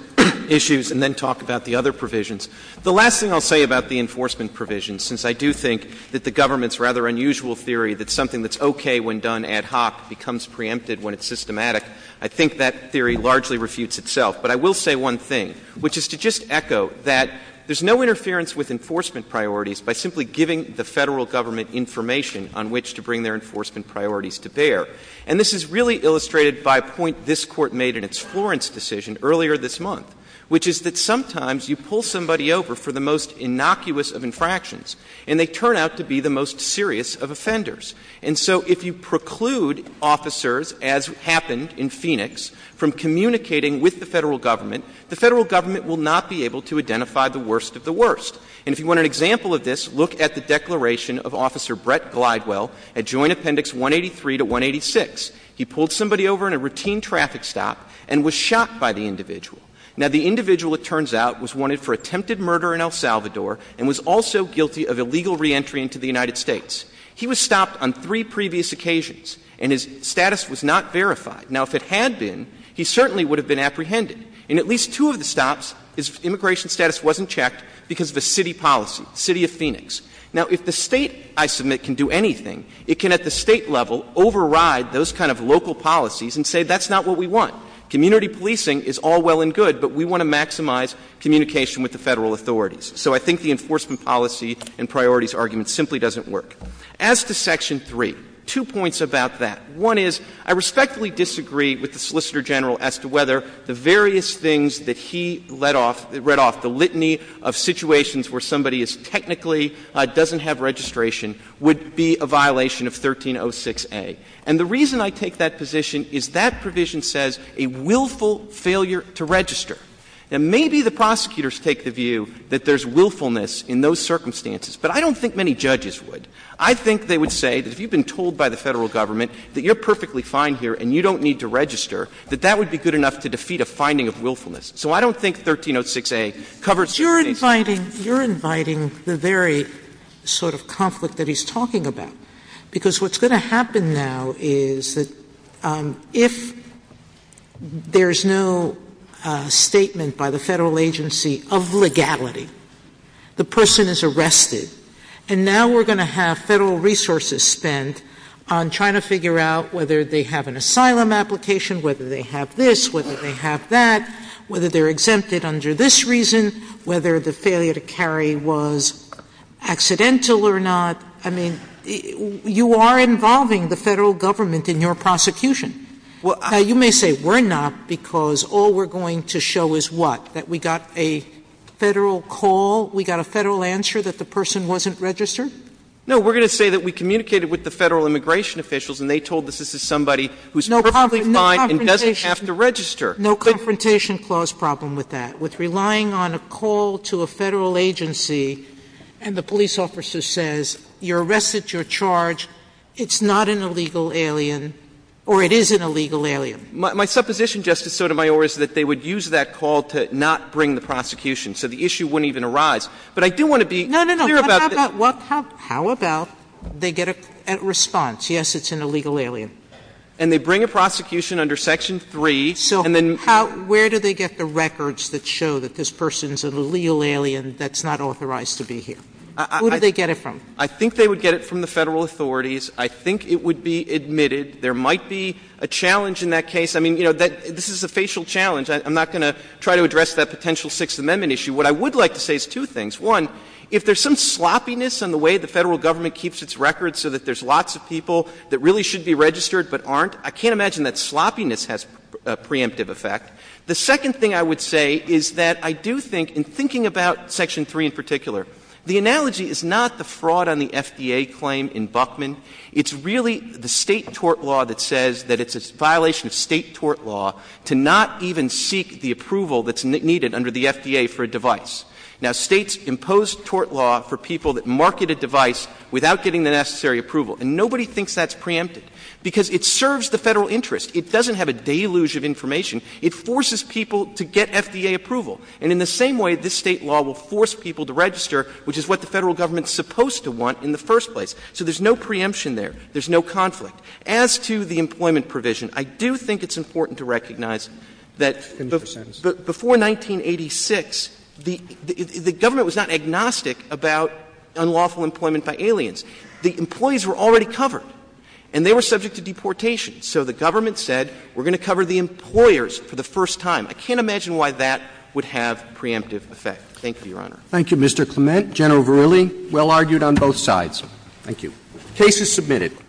issues and then talk about the other provisions. The last thing I'll say about the enforcement provisions, since I do think that the government's rather unusual theory that something that's okay when done ad hoc becomes preempted when it's systematic, I think that theory largely refutes itself. But I will say one thing, which is to just echo that there's no interference with enforcement priorities by simply giving the federal government information on which to bring their enforcement priorities to bear. And this is really illustrated by a point this Court made in its Florence decision earlier this month, which is that sometimes you pull somebody over for the most innocuous of infractions, and they turn out to be the most serious of offenders. And so if you preclude officers, as happened in Phoenix, from communicating with the federal government, the federal government will not be able to identify the worst of the worst. And if you want an example of this, look at the declaration of Officer Brett Glidewell at Joint Appendix 183 to 186. He pulled somebody over in a routine traffic stop and was shot by the individual. Now, the individual, it turns out, was wanted for attempted murder in El Salvador and was also guilty of illegal reentry into the United States. He was stopped on three previous occasions, and his status was not verified. Now, if it had been, he certainly would have been apprehended. In at least two of the stops, his immigration status wasn't checked because of a city policy, the city of Phoenix. Now, if the state, I submit, can do anything, it can, at the state level, override those kind of local policies and say that's not what we want. Community policing is all well and good, but we want to maximize communication with the federal authorities. So I think the enforcement policy and priorities argument simply doesn't work. As to Section 3, two points about that. One is, I respectfully disagree with the Solicitor General as to whether the various things that he read off, the litany of situations where somebody is technically doesn't have registration, would be a violation of 1306A. And the reason I take that position is that provision says a willful failure to register. Now, maybe the prosecutors take the view that there's willfulness in those circumstances, but I don't think many judges would. I think they would say that if you've been told by the federal government that you're perfectly fine here and you don't need to register, that that would be good enough to defeat a finding of willfulness. So I don't think 1306A covers- You're inviting the very sort of conflict that he's talking about. Because what's going to happen now is that if there's no statement by the federal agency of legality, the person is arrested. And now we're going to have federal resources spent on trying to figure out whether they have an asylum application, whether they have this, whether they have that, whether they're exempted under this reason, whether the failure to carry was accidental or not. I mean, you are involving the federal government in your prosecution. You may say we're not because all we're going to show is what? That we got a federal call, we got a federal answer that the person wasn't registered? No, we're going to say that we communicated with the federal immigration officials and they told us this is somebody who's perfectly fine and doesn't have to register. No confrontation clause problem with that, with relying on a call to a federal agency and the police officer says, you're arrested, you're charged, it's not an illegal alien or it is an illegal alien. My supposition, Justice Sotomayor, is that they would use that call to not bring the prosecution. So the issue wouldn't even arise. But I do want to be clear about this. How about they get a response? Yes, it's an illegal alien. And they bring a prosecution under section three. So where do they get the records that show that this person's an illegal alien that's not authorized to be here? Who do they get it from? I think they would get it from the federal authorities. I think it would be admitted. There might be a challenge in that case. I mean, you know, this is a facial challenge. I'm not going to try to address that potential Sixth Amendment issue. What I would like to say is two things. One, if there's some sloppiness in the way the federal government keeps its records so that there's lots of people that really should be registered but aren't, I can't imagine that sloppiness has a preemptive effect. The second thing I would say is that I do think in thinking about section three in particular, the analogy is not the fraud on the FDA claim in Buckman. It's really the state tort law that says that it's a violation of state tort law to not even seek the approval that's needed under the FDA for a device. Now, states impose tort law for people that market a device without getting the necessary approval. And nobody thinks that's preemptive because it serves the federal interest. It doesn't have a deluge of information. It forces people to get FDA approval. And in the same way, this state law will force people to register, which is what the federal government's supposed to want in the first place. So there's no preemption there. There's no conflict. As to the employment provision, I do think it's important to recognize that before 1986, the government was not agnostic about unlawful employment by aliens. The employees were already covered, and they were subject to deportation. So the government said, we're going to cover the employers for the first time. I can't imagine why that would have preemptive effect. Thank you, Your Honor. Thank you, Mr. Clement. General Verrilli, well argued on both sides. Thank you. Case is submitted.